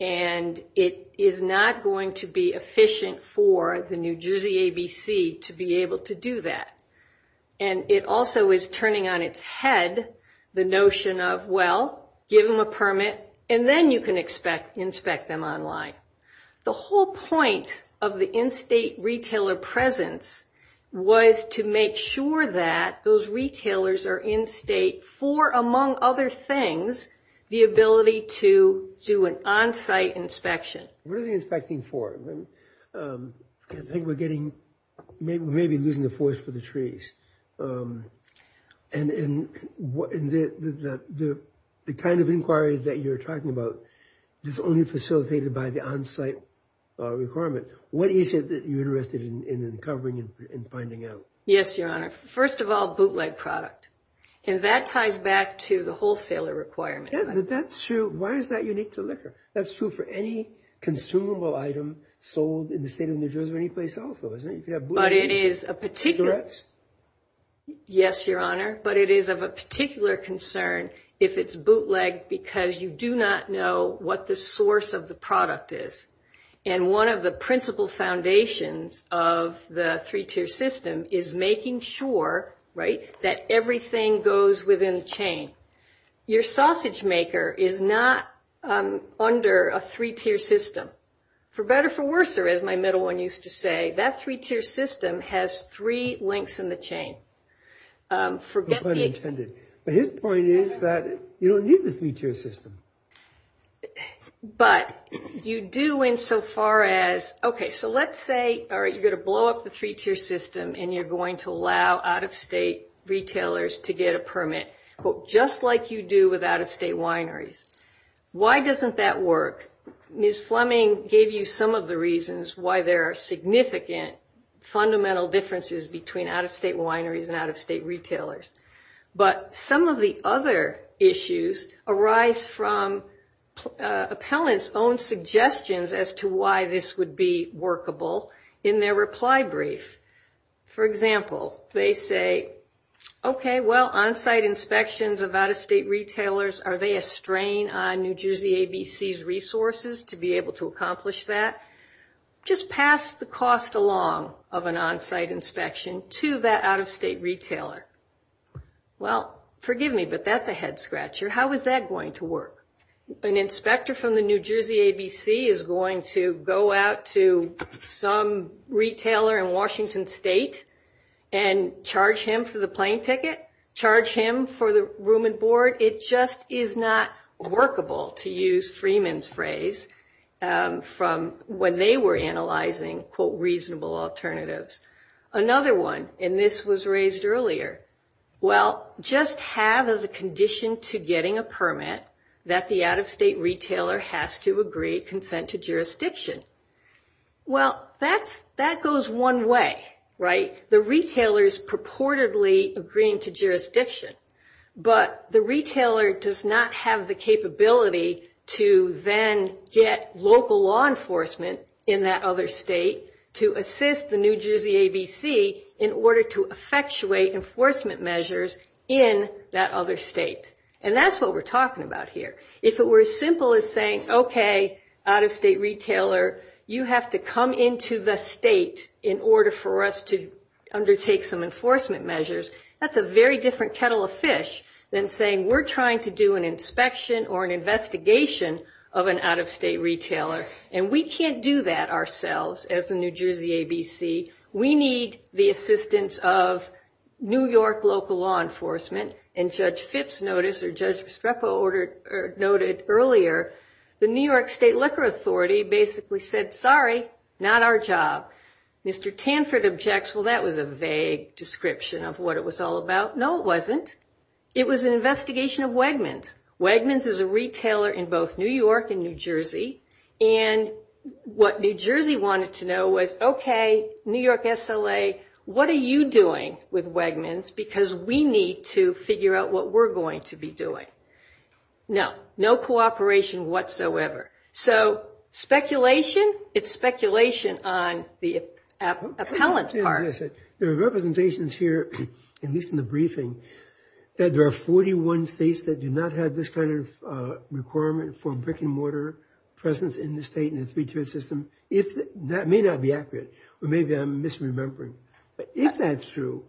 and it is not going to be efficient for the New Jersey ABC to be able to do that. And it also is turning on its head the notion of, well, give them a permit, and then you can inspect them online. The whole point of the in-state retailer presence was to make sure that those retailers are in-state for, among other things, the ability to do an on-site inspection. What are they inspecting for? I think we're getting – we may be losing the forest for the trees. And the kind of inquiry that you're talking about is only facilitated by the on-site requirement. What is it that you're interested in uncovering and finding out? Yes, Your Honor. First of all, bootleg product. And that ties back to the wholesaler requirement. That's true. Why is that unique to liquor? That's true for any consumable item sold in the state of New Jersey or any place else. But it is a particular – yes, Your Honor, but it is of a particular concern if it's bootleg because you do not know what the source of the product is. And one of the principal foundations of the three-tier system is making sure, right, that everything goes within the chain. Your sausage maker is not under a three-tier system. For better or for worse, as my middle one used to say, that three-tier system has three links in the chain. But his point is that you don't need the three-tier system. But you do insofar as – okay, so let's say you're going to blow up the three-tier system and you're going to allow out-of-state retailers to get a permit, just like you do with out-of-state wineries. Why doesn't that work? Ms. Fleming gave you some of the reasons why there are significant fundamental differences between out-of-state wineries and out-of-state retailers. But some of the other issues arise from appellants' own suggestions as to why this would be workable in their reply brief. For example, they say, okay, well, on-site inspections of out-of-state retailers, are they a strain on New Jersey ABC's resources to be able to accomplish that? Just pass the cost along of an on-site inspection to that out-of-state retailer. Well, forgive me, but that's a head scratcher. How is that going to work? An inspector from the New Jersey ABC is going to go out to some retailer in Washington State and charge him for the plane ticket, charge him for the room and board. It just is not workable, to use Freeman's phrase, from when they were analyzing, quote, reasonable alternatives. Another one, and this was raised earlier, well, just have as a condition to getting a permit that the out-of-state retailer has to agree consent to jurisdiction. Well, that goes one way, right? The retailer is purportedly agreeing to jurisdiction. But the retailer does not have the capability to then get local law enforcement in that other state to assist the New Jersey ABC in order to effectuate enforcement measures in that other state. And that's what we're talking about here. If it were as simple as saying, okay, out-of-state retailer, you have to come into the state in order for us to undertake some enforcement measures, that's a very different kettle of fish than saying we're trying to do an inspection or an investigation of an out-of-state retailer. And we can't do that ourselves as the New Jersey ABC. We need the assistance of New York local law enforcement. In Judge Fitts' notice, or Judge Spreco noted earlier, the New York State Liquor Authority basically said, sorry, not our job. Mr. Tanford objects, well, that was a vague description of what it was all about. No, it wasn't. It was an investigation of Wegmans. Wegmans is a retailer in both New York and New Jersey. And what New Jersey wanted to know was, okay, New York SLA, what are you doing with Wegmans? Because we need to figure out what we're going to be doing. No, no cooperation whatsoever. So speculation, it's speculation on the appellate part. There are representations here, at least in the briefing, that there are 41 states that do not have this kind of requirement for brick-and-mortar presence in the state in the three-tiered system. That may not be accurate. Or maybe I'm misremembering. If that's true,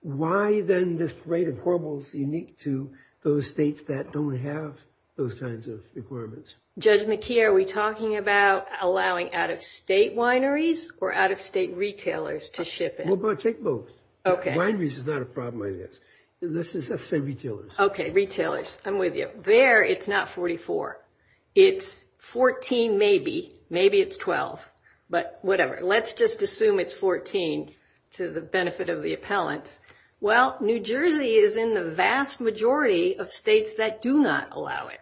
why then this rate of corbels unique to those states that don't have those kinds of requirements? Judge McKee, are we talking about allowing out-of-state wineries or out-of-state retailers to ship it? Well, take both. Wineries is not a problem, I guess. Let's just say retailers. Okay, retailers. I'm with you. There, it's not 44. It's 14 maybe. Maybe it's 12. But whatever. Let's just assume it's 14 to the benefit of the appellant. Well, New Jersey is in the vast majority of states that do not allow it.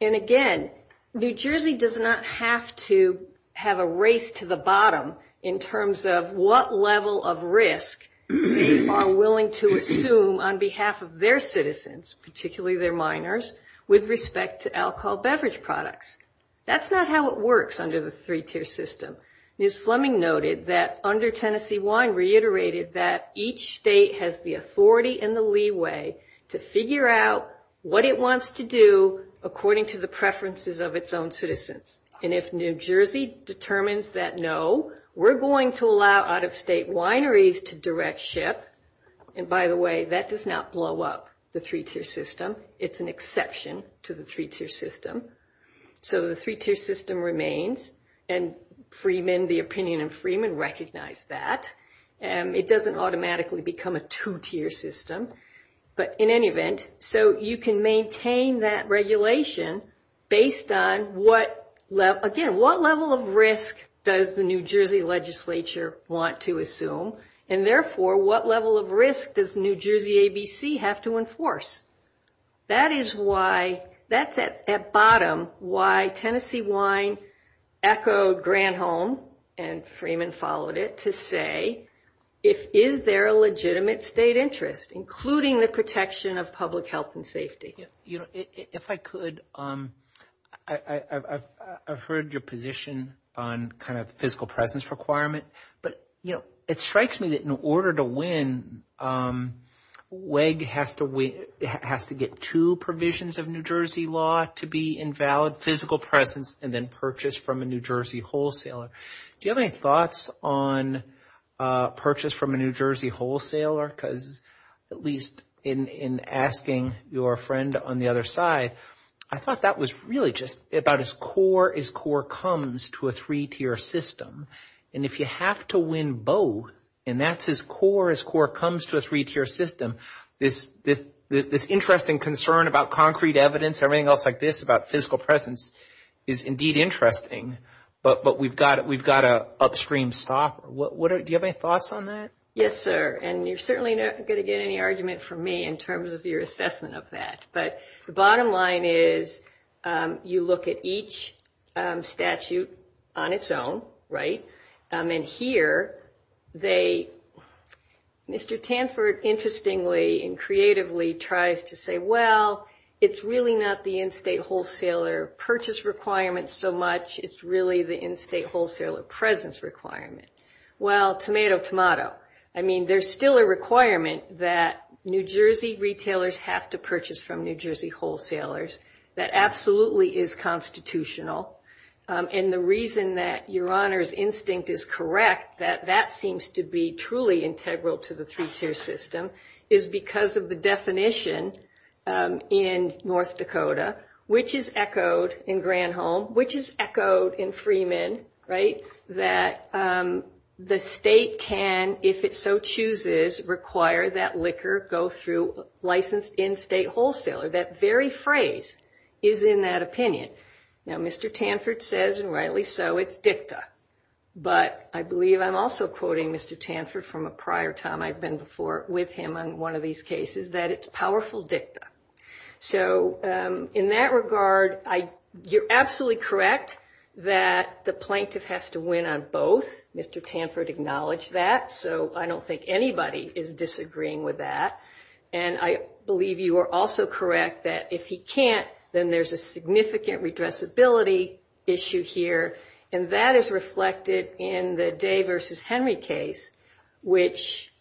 And again, New Jersey does not have to have a race to the bottom in terms of what level of risk they are willing to assume on behalf of their citizens, particularly their minors, with respect to alcohol beverage products. That's not how it works under the three-tier system. Ms. Fleming noted that under Tennessee wine reiterated that each state has the authority and the leeway to figure out what it wants to do according to the preferences of its own citizens. And if New Jersey determines that no, we're going to allow out-of-state wineries to direct ship. And by the way, that does not blow up the three-tier system. It's an exception to the three-tier system. So the three-tier system remains, and the opinion in Freeman recognized that. It doesn't automatically become a two-tier system, but in any event, so you can maintain that regulation based on what level of risk does the New Jersey legislature want to assume? And therefore, what level of risk does New Jersey ABC have to enforce? That is why, that's at bottom why Tennessee wine echoed Granholm, and Freeman followed it, to say is there a legitimate state interest, including the protection of public health and safety? If I could, I've heard your position on kind of physical presence requirement, but it strikes me that in order to win, WEG has to get two provisions of New Jersey law to be invalid, physical presence, and then purchase from a New Jersey wholesaler. Do you have any thoughts on purchase from a New Jersey wholesaler? Because at least in asking your friend on the other side, I thought that was really just about as core as core comes to a three-tier system. And if you have to win both, and that's as core as core comes to a three-tier system, this interest and concern about concrete evidence, everything else like this, about physical presence is indeed interesting, but we've got to upstream stop. Do you have any thoughts on that? Yes, sir. And you're certainly not going to get any argument from me in terms of your assessment of that. But the bottom line is you look at each statute on its own, right? And here, Mr. Tanford interestingly and creatively tries to say, well, it's really not the in-state wholesaler purchase requirement so much. It's really the in-state wholesaler presence requirement. Well, tomato, tomato. I mean, there's still a requirement that New Jersey retailers have to purchase from New Jersey wholesalers. That absolutely is constitutional. And the reason that your Honor's instinct is correct, that that seems to be truly integral to the three-tier system, is because of the definition in North Dakota, which is echoed in Granholm, which is echoed in Freeman, right, that the state can, if it so chooses, require that liquor go through licensed in-state wholesaler. That very phrase is in that opinion. Now, Mr. Tanford says, and rightly so, it's dicta. But I believe I'm also quoting Mr. Tanford from a prior time I've been with him on one of these cases, that it's powerful dicta. So in that regard, you're absolutely correct that the plaintiff has to win on both. Mr. Tanford acknowledged that. So I don't think anybody is disagreeing with that. And I believe you are also correct that if he can't, then there's a significant redressability issue here. And that is reflected in the Day v. Henry case, which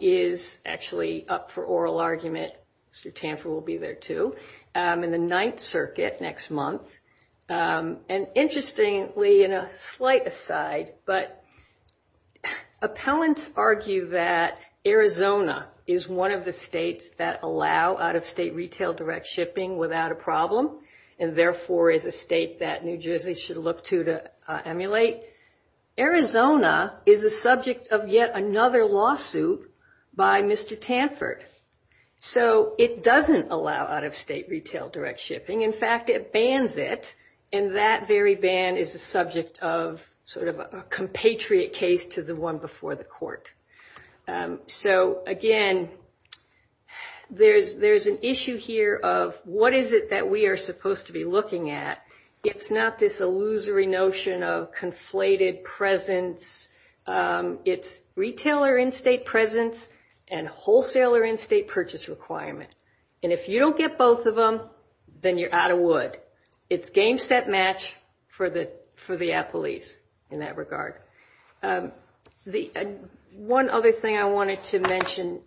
is actually up for oral argument. Mr. Tanford will be there, too, in the Ninth Circuit next month. And interestingly, and a slight aside, but appellants argue that Arizona is one of the states that allow out-of-state retail direct shipping without a problem, and therefore is a state that New Jersey should look to to emulate. Arizona is the subject of yet another lawsuit by Mr. Tanford. So it doesn't allow out-of-state retail direct shipping. In fact, it bans it. And that very ban is the subject of sort of a compatriot case to the one before the court. So, again, there's an issue here of what is it that we are supposed to be looking at. It's not this illusory notion of conflated presence. It's retailer in-state presence and wholesaler in-state purchase requirement. And if you don't get both of them, then you're out of wood. It's game, set, match for the appellees in that regard. One other thing I wanted to mention,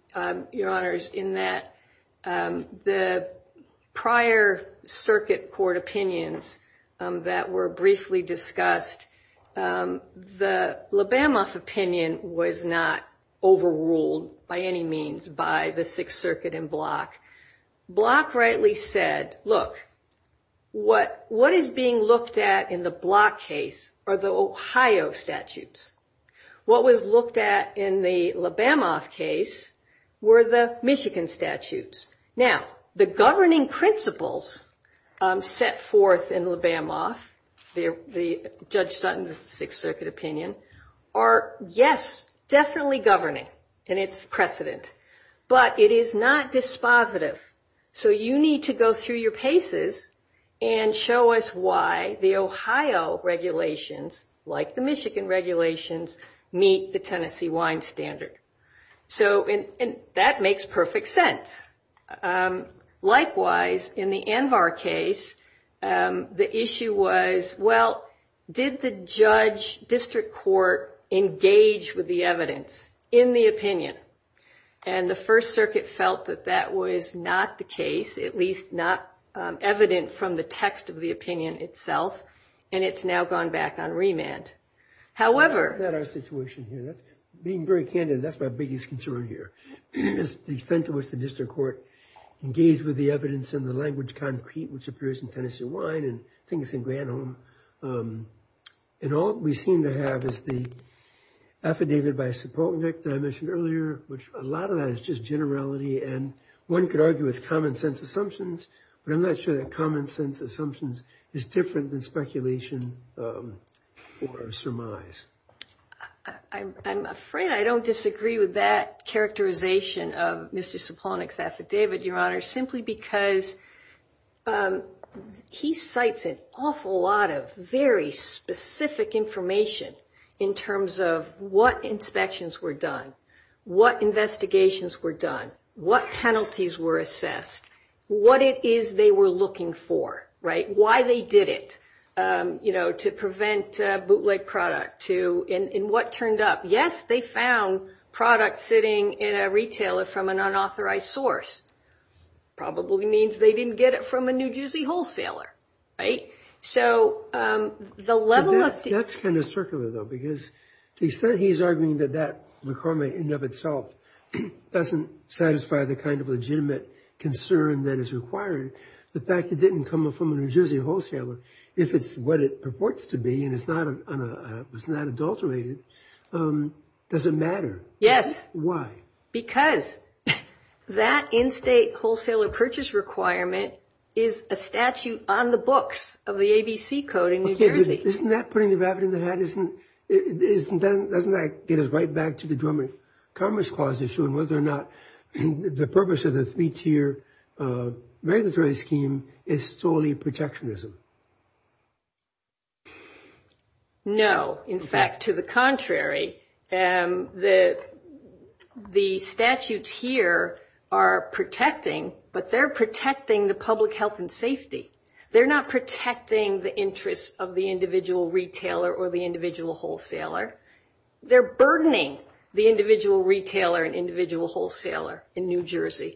Your Honors, in that the prior circuit court opinions that were briefly discussed, the LeBamoff opinion was not overruled by any means by the Sixth Circuit and Block. Block rightly said, look, what is being looked at in the Block case are the Ohio statutes. What was looked at in the LeBamoff case were the Michigan statutes. Now, the governing principles set forth in LeBamoff, Judge Sutton's Sixth Circuit opinion, are, yes, definitely governing. And it's precedent. But it is not dispositive. So you need to go through your cases and show us why the Ohio regulations, like the Michigan regulations, meet the Tennessee wine standard. And that makes perfect sense. Likewise, in the Anvar case, the issue was, well, did the judge district court engage with the evidence in the opinion? And the First Circuit felt that that was not the case, at least not evident from the text of the opinion itself. And it's now gone back on remand. That's not our situation here. Being very candid, that's my biggest concern here. Is the extent to which the district court engaged with the evidence in the language concrete, which appears in Tennessee wine, and I think it's in Granholm. And all we seem to have is the affidavit by Sipovic that I mentioned earlier, which a lot of that is just generality. And one could argue it's common sense assumptions. But I'm not sure that common sense assumptions is different than speculation or surmise. I'm afraid I don't disagree with that characterization of Mr. Sipovic's affidavit, Your Honor, simply because he cites an awful lot of very specific information in terms of what inspections were done, what investigations were done, what penalties were assessed, what it is they were looking for, right, why they did it, you know, to prevent bootleg product, and what turned up. Yes, they found product sitting in a retailer from an unauthorized source. Probably means they didn't get it from a New Jersey wholesaler, right? That's kind of circular, though, because he said he's arguing that that requirement in and of itself doesn't satisfy the kind of legitimate concern that is required. The fact it didn't come from a New Jersey wholesaler, if it's what it purports to be and it's not adulterated, doesn't matter. Yes. Why? Because that in-state wholesaler purchase requirement is a statute on the books of the ABC Code in New Jersey. Isn't that putting the rabbit in the hat? Doesn't that get us right back to the German Commerce Clause issue and whether or not the purpose of the three-tier regulatory scheme is solely protectionism? No. In fact, to the contrary. The statutes here are protecting, but they're protecting the public health and safety. They're not protecting the interests of the individual retailer or the individual wholesaler. They're burdening the individual retailer and individual wholesaler in New Jersey.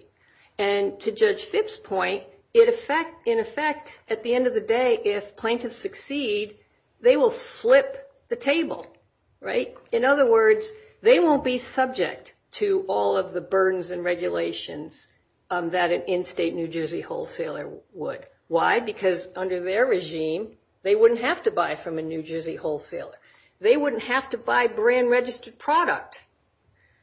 To Judge Phipps' point, in effect, at the end of the day, if plaintiffs succeed, they will flip the table. In other words, they won't be subject to all of the burdens and regulations that an in-state New Jersey wholesaler would. Why? Because under their regime, they wouldn't have to buy from a New Jersey wholesaler. They wouldn't have to buy brand-registered product.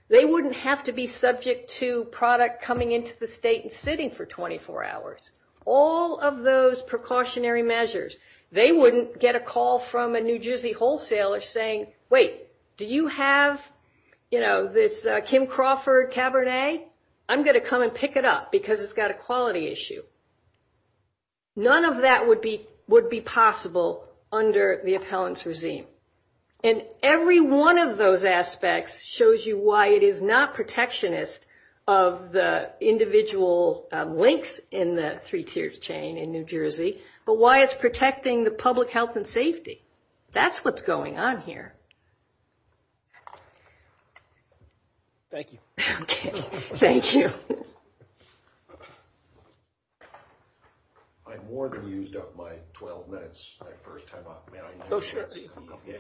They wouldn't have to be subject to product coming into the state and sitting for 24 hours. All of those precautionary measures. They wouldn't get a call from a New Jersey wholesaler saying, wait, do you have this Kim Crawford Cabernet? I'm going to come and pick it up because it's got a quality issue. None of that would be possible under the appellant's regime. Every one of those aspects shows you why it is not protectionist of the individual links in the three-tiers chain in New Jersey, but why it's protecting the public health and safety. That's what's going on here. Thank you. Okay. Thank you. I'm more confused about my 12 minutes. I first came up. Oh, sure. Yes. Thank you.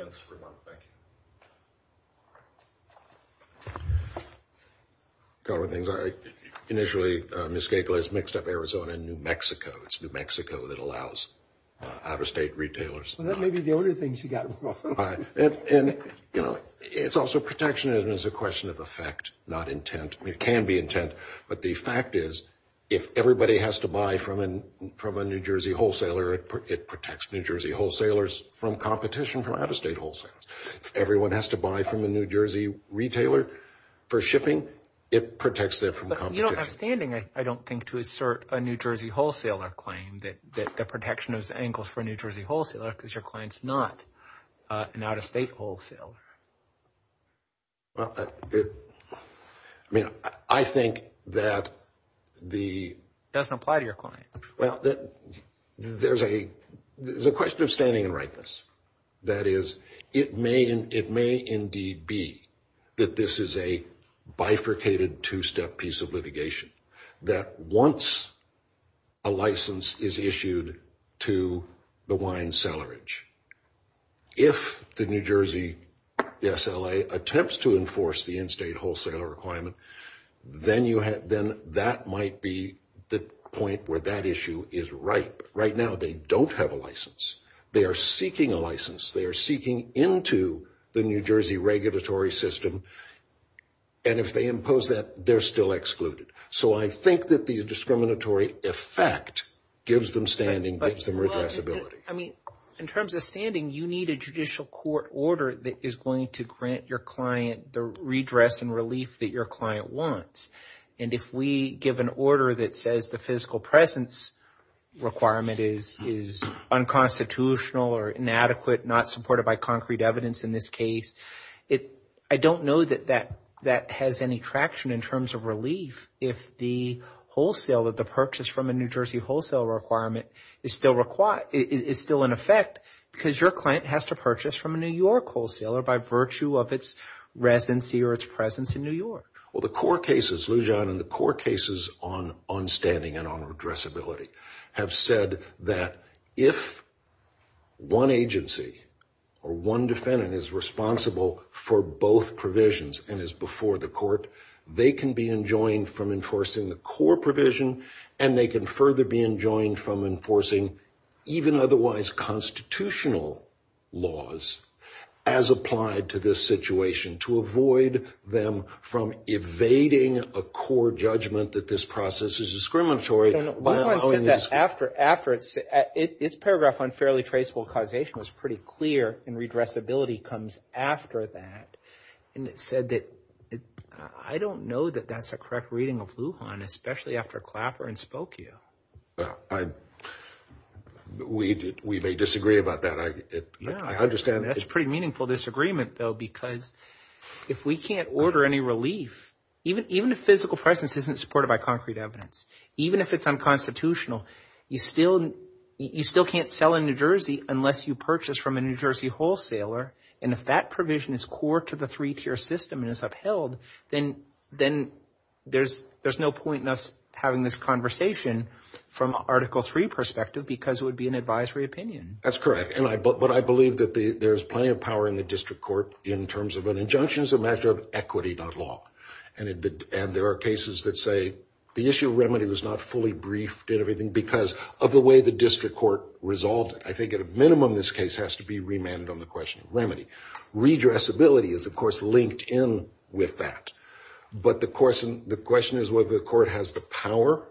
A couple of things. Initially, Ms. Cagle has mixed up Arizona and New Mexico. It's New Mexico that allows out-of-state retailers. Well, that may be the only thing she got wrong. And it's also protectionism. It's a question of effect, not intent. It can be intent. But the fact is, if everybody has to buy from a New Jersey wholesaler, it protects New Jersey wholesalers from competition from out-of-state wholesalers. If everyone has to buy from a New Jersey retailer for shipping, it protects them from competition. But you don't have standing, I don't think, to assert a New Jersey wholesaler claim, that the protection is angles for a New Jersey wholesaler because your client's not an out-of-state wholesaler. Well, I mean, I think that the... It doesn't apply to your client. Well, there's a question of standing and rightness. That is, it may indeed be that this is a bifurcated two-step piece of litigation, that once a license is issued to the wine cellarage, if the New Jersey SLA attempts to enforce the in-state wholesaler requirement, then that might be the point where that issue is ripe. Right now, they don't have a license. They are seeking a license. They are seeking into the New Jersey regulatory system. And if they impose that, they're still excluded. So I think that the discriminatory effect gives them standing, gives them responsibility. I mean, in terms of standing, you need a judicial court order that is going to grant your client the redress and relief that your client wants. And if we give an order that says the physical presence requirement is unconstitutional or inadequate, not supported by concrete evidence in this case, I don't know that that has any traction in terms of relief if the wholesale or the purchase from a New Jersey wholesale requirement is still in effect because your client has to purchase from a New York wholesaler by virtue of its residency or its presence in New York. Well, the core cases, Lou John, and the core cases on standing and on redressability have said that if one agency or one defendant is responsible for both provisions and is before the court, they can be enjoined from enforcing the core provision, and they can further be enjoined from enforcing even otherwise constitutional laws as applied to this situation to avoid them from evading a core judgment that this process is discriminatory. His paragraph on fairly traceable causation was pretty clear, and redressability comes after that. And it said that I don't know that that's a correct reading of Lou John, especially after Clapper and Spokio. We may disagree about that. I understand that. That's a pretty meaningful disagreement, though, because if we can't order any relief, even if physical presence isn't supported by concrete evidence, even if it's unconstitutional, you still can't sell in New Jersey unless you purchase from a New Jersey wholesaler, and if that provision is core to the three-tier system and is upheld, then there's no point in us having this conversation from an Article III perspective because it would be an advisory opinion. That's correct, but I believe that there's plenty of power in the district court in terms of an injunction as a matter of equity, not law. And there are cases that say the issue of remedy was not fully briefed in everything because of the way the district court resolved it. I think at a minimum this case has to be remanded on the question of remedy. Redressability is, of course, linked in with that, but the question is whether the court has the power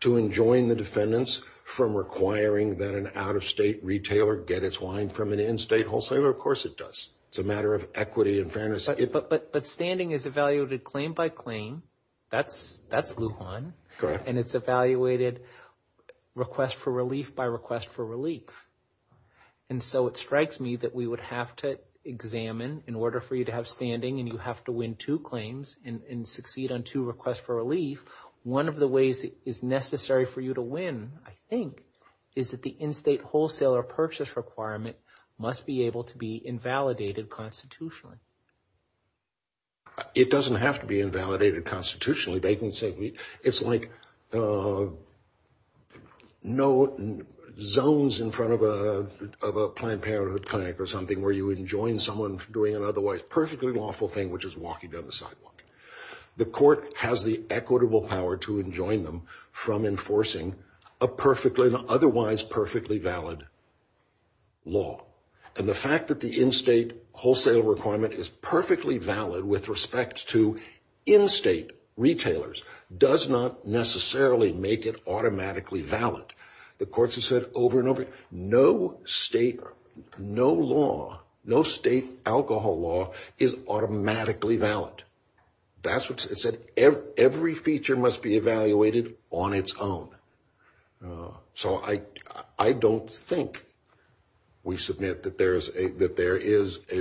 to enjoin the defendants from requiring that an out-of-state retailer get its wine from an in-state wholesaler. Of course it does. It's a matter of equity and fairness. But standing is evaluated claim by claim. That's Lujan, and it's evaluated request for relief by request for relief. And so it strikes me that we would have to examine, in order for you to have standing and you have to win two claims and succeed on two requests for relief, one of the ways it is necessary for you to win, I think, is that the in-state wholesaler purchase requirement must be able to be invalidated constitutionally. It doesn't have to be invalidated constitutionally. They can say it's like no zones in front of a Planned Parenthood clinic or something where you enjoin someone from doing an otherwise perfectly lawful thing, which is walking down the sidewalk. The court has the equitable power to enjoin them from enforcing an otherwise perfectly valid law. And the fact that the in-state wholesale requirement is perfectly valid with respect to in-state retailers does not necessarily make it automatically valid. The courts have said over and over, no state alcohol law is automatically valid. That's what it said. Every feature must be evaluated on its own. So I don't think we submit that there is a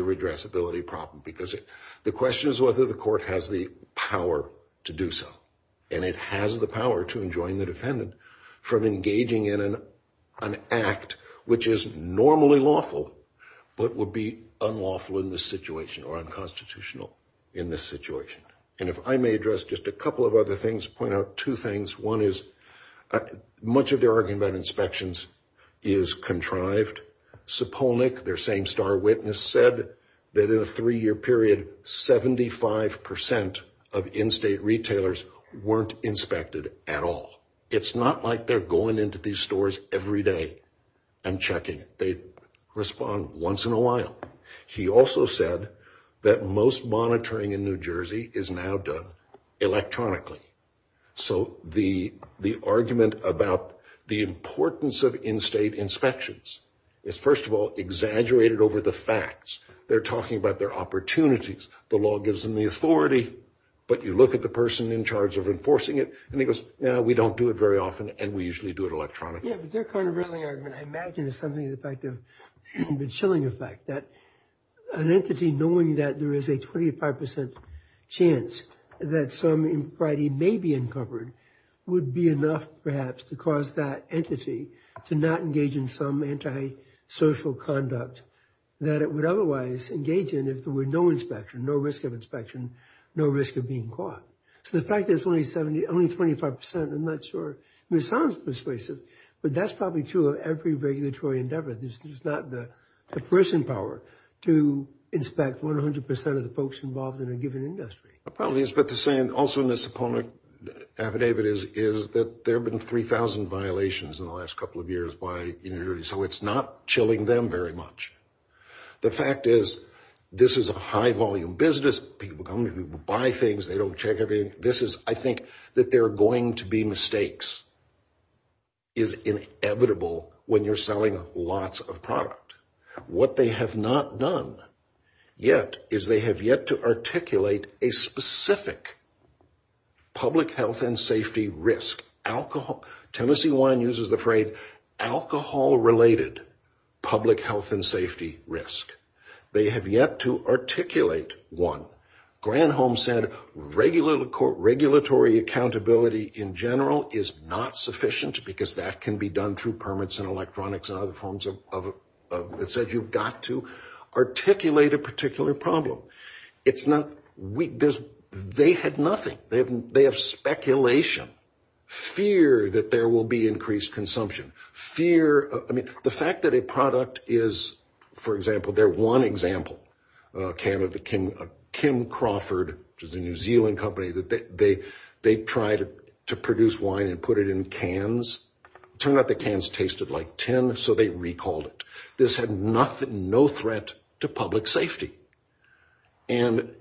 redressability problem, because the question is whether the court has the power to do so. And it has the power to enjoin the defendant from engaging in an act which is normally lawful, but would be unlawful in this situation or unconstitutional in this situation. And if I may address just a couple of other things, point out two things. One is, much of the argument on inspections is contrived. Their same star witness said that in a three-year period, 75% of in-state retailers weren't inspected at all. It's not like they're going into these stores every day and checking. They respond once in a while. He also said that most monitoring in New Jersey is now done electronically. So the argument about the importance of in-state inspections is, first of all, exaggerated over the facts. They're talking about their opportunities. The law gives them the authority, but you look at the person in charge of enforcing it, and he goes, no, we don't do it very often, and we usually do it electronically. Yeah, but their countervailing argument, I imagine, is something to the chilling effect, that an entity knowing that there is a 25% chance that somebody may be uncovered would be enough, perhaps, to cause that entity to not engage in some antisocial conduct that it would otherwise engage in if there were no inspection, no risk of inspection, no risk of being caught. So the fact that it's only 25%, I'm not sure, it sounds persuasive, but that's probably true of every regulatory endeavor. It's not the person power to inspect 100% of the folks involved in a given industry. I probably expect to say, and also in this opponent affidavit is, is that there have been 3,000 violations in the last couple of years by New Jersey, so it's not chilling them very much. The fact is, this is a high-volume business. People come in, people buy things, they don't check everything. I think that there are going to be mistakes is inevitable when you're selling lots of product. What they have not done yet is they have yet to articulate a specific public health and safety risk. Tennessee Wine uses the phrase alcohol-related public health and safety risk. They have yet to articulate one. Granholm said regulatory accountability in general is not sufficient because that can be done through permits and electronics and other forms of, it said you've got to articulate a particular problem. It's not, they had nothing. They have speculation, fear that there will be increased consumption, fear, I mean the fact that a product is, for example, their one example, a can of Kim Crawford, which is a New Zealand company, they tried to produce wine and put it in cans. Turned out the cans tasted like tin, so they recalled it. This had nothing, no threat to public safety. And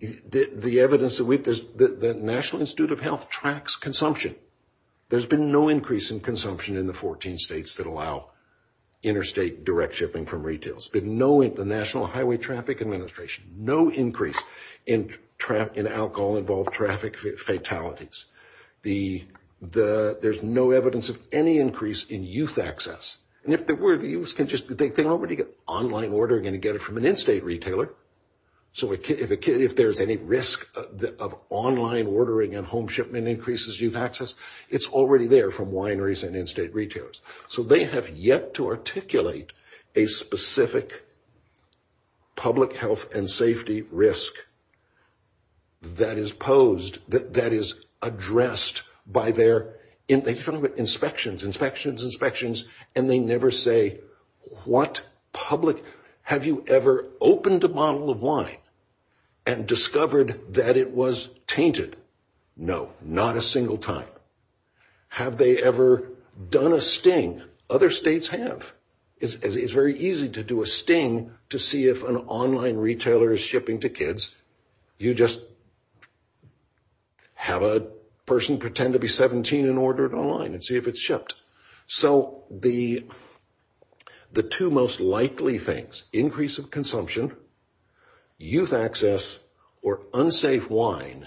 the evidence that we've, the National Institute of Health tracks consumption. There's been no increase in consumption in the 14 states that allow interstate direct shipping from retails. There's been no, the National Highway Traffic Administration, no increase in alcohol-involved traffic fatalities. There's no evidence of any increase in youth access. And if there were, the youths can just, they can already get online ordering and get it from an in-state retailer. So if there's any risk of online ordering and home shipment increases youth access, it's already there from wineries and in-state retailers. So they have yet to articulate a specific public health and safety risk that is posed, that is addressed by their inspections, inspections, inspections, and they never say what public, have you ever opened a bottle of wine and discovered that it was tainted? No, not a single time. Have they ever done a sting? Other states have. It's very easy to do a sting to see if an online retailer is shipping to kids. You just have a person pretend to be 17 and order it online and see if it's shipped. So the two most likely things, increase of consumption, youth access, or unsafe wine,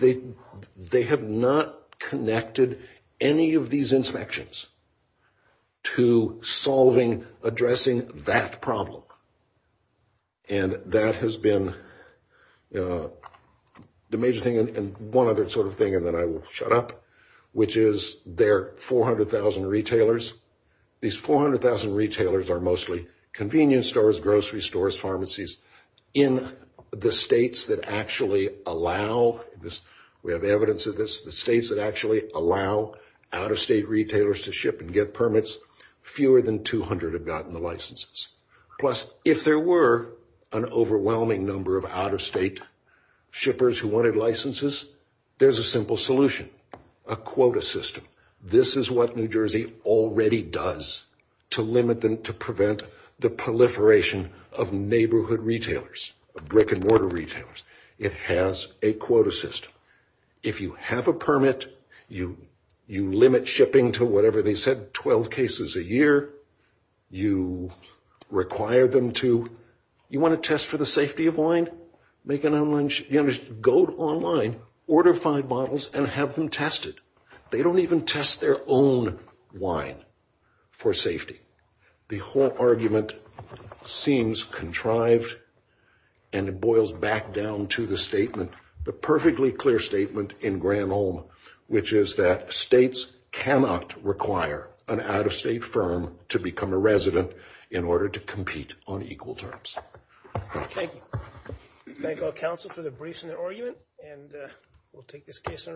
they have not connected any of these inspections to solving, addressing that problem. And that has been the major thing, and one other sort of thing that I will shut up, which is there are 400,000 retailers. These 400,000 retailers are mostly convenience stores, grocery stores, pharmacies, in the states that actually allow, we have evidence of this, the states that actually allow out-of-state retailers to ship and get permits, fewer than 200 have gotten the licenses. Plus, if there were an overwhelming number of out-of-state shippers who wanted licenses, there's a simple solution, a quota system. This is what New Jersey already does to limit them, to prevent the proliferation of neighborhood retailers, brick-and-mortar retailers. It has a quota system. If you have a permit, you limit shipping to whatever they said, 12 cases a year. You require them to, you want to test for the safety of wine? Go online, order five bottles, and have them tested. They don't even test their own wine for safety. The whole argument seems contrived, and it boils back down to the statement, the perfectly clear statement in Graham-Ohm, which is that states cannot require an out-of-state firm to become a resident in order to compete on equal terms. Thank you. Thank all counsel for the briefs and the argument, and we'll take this case under review.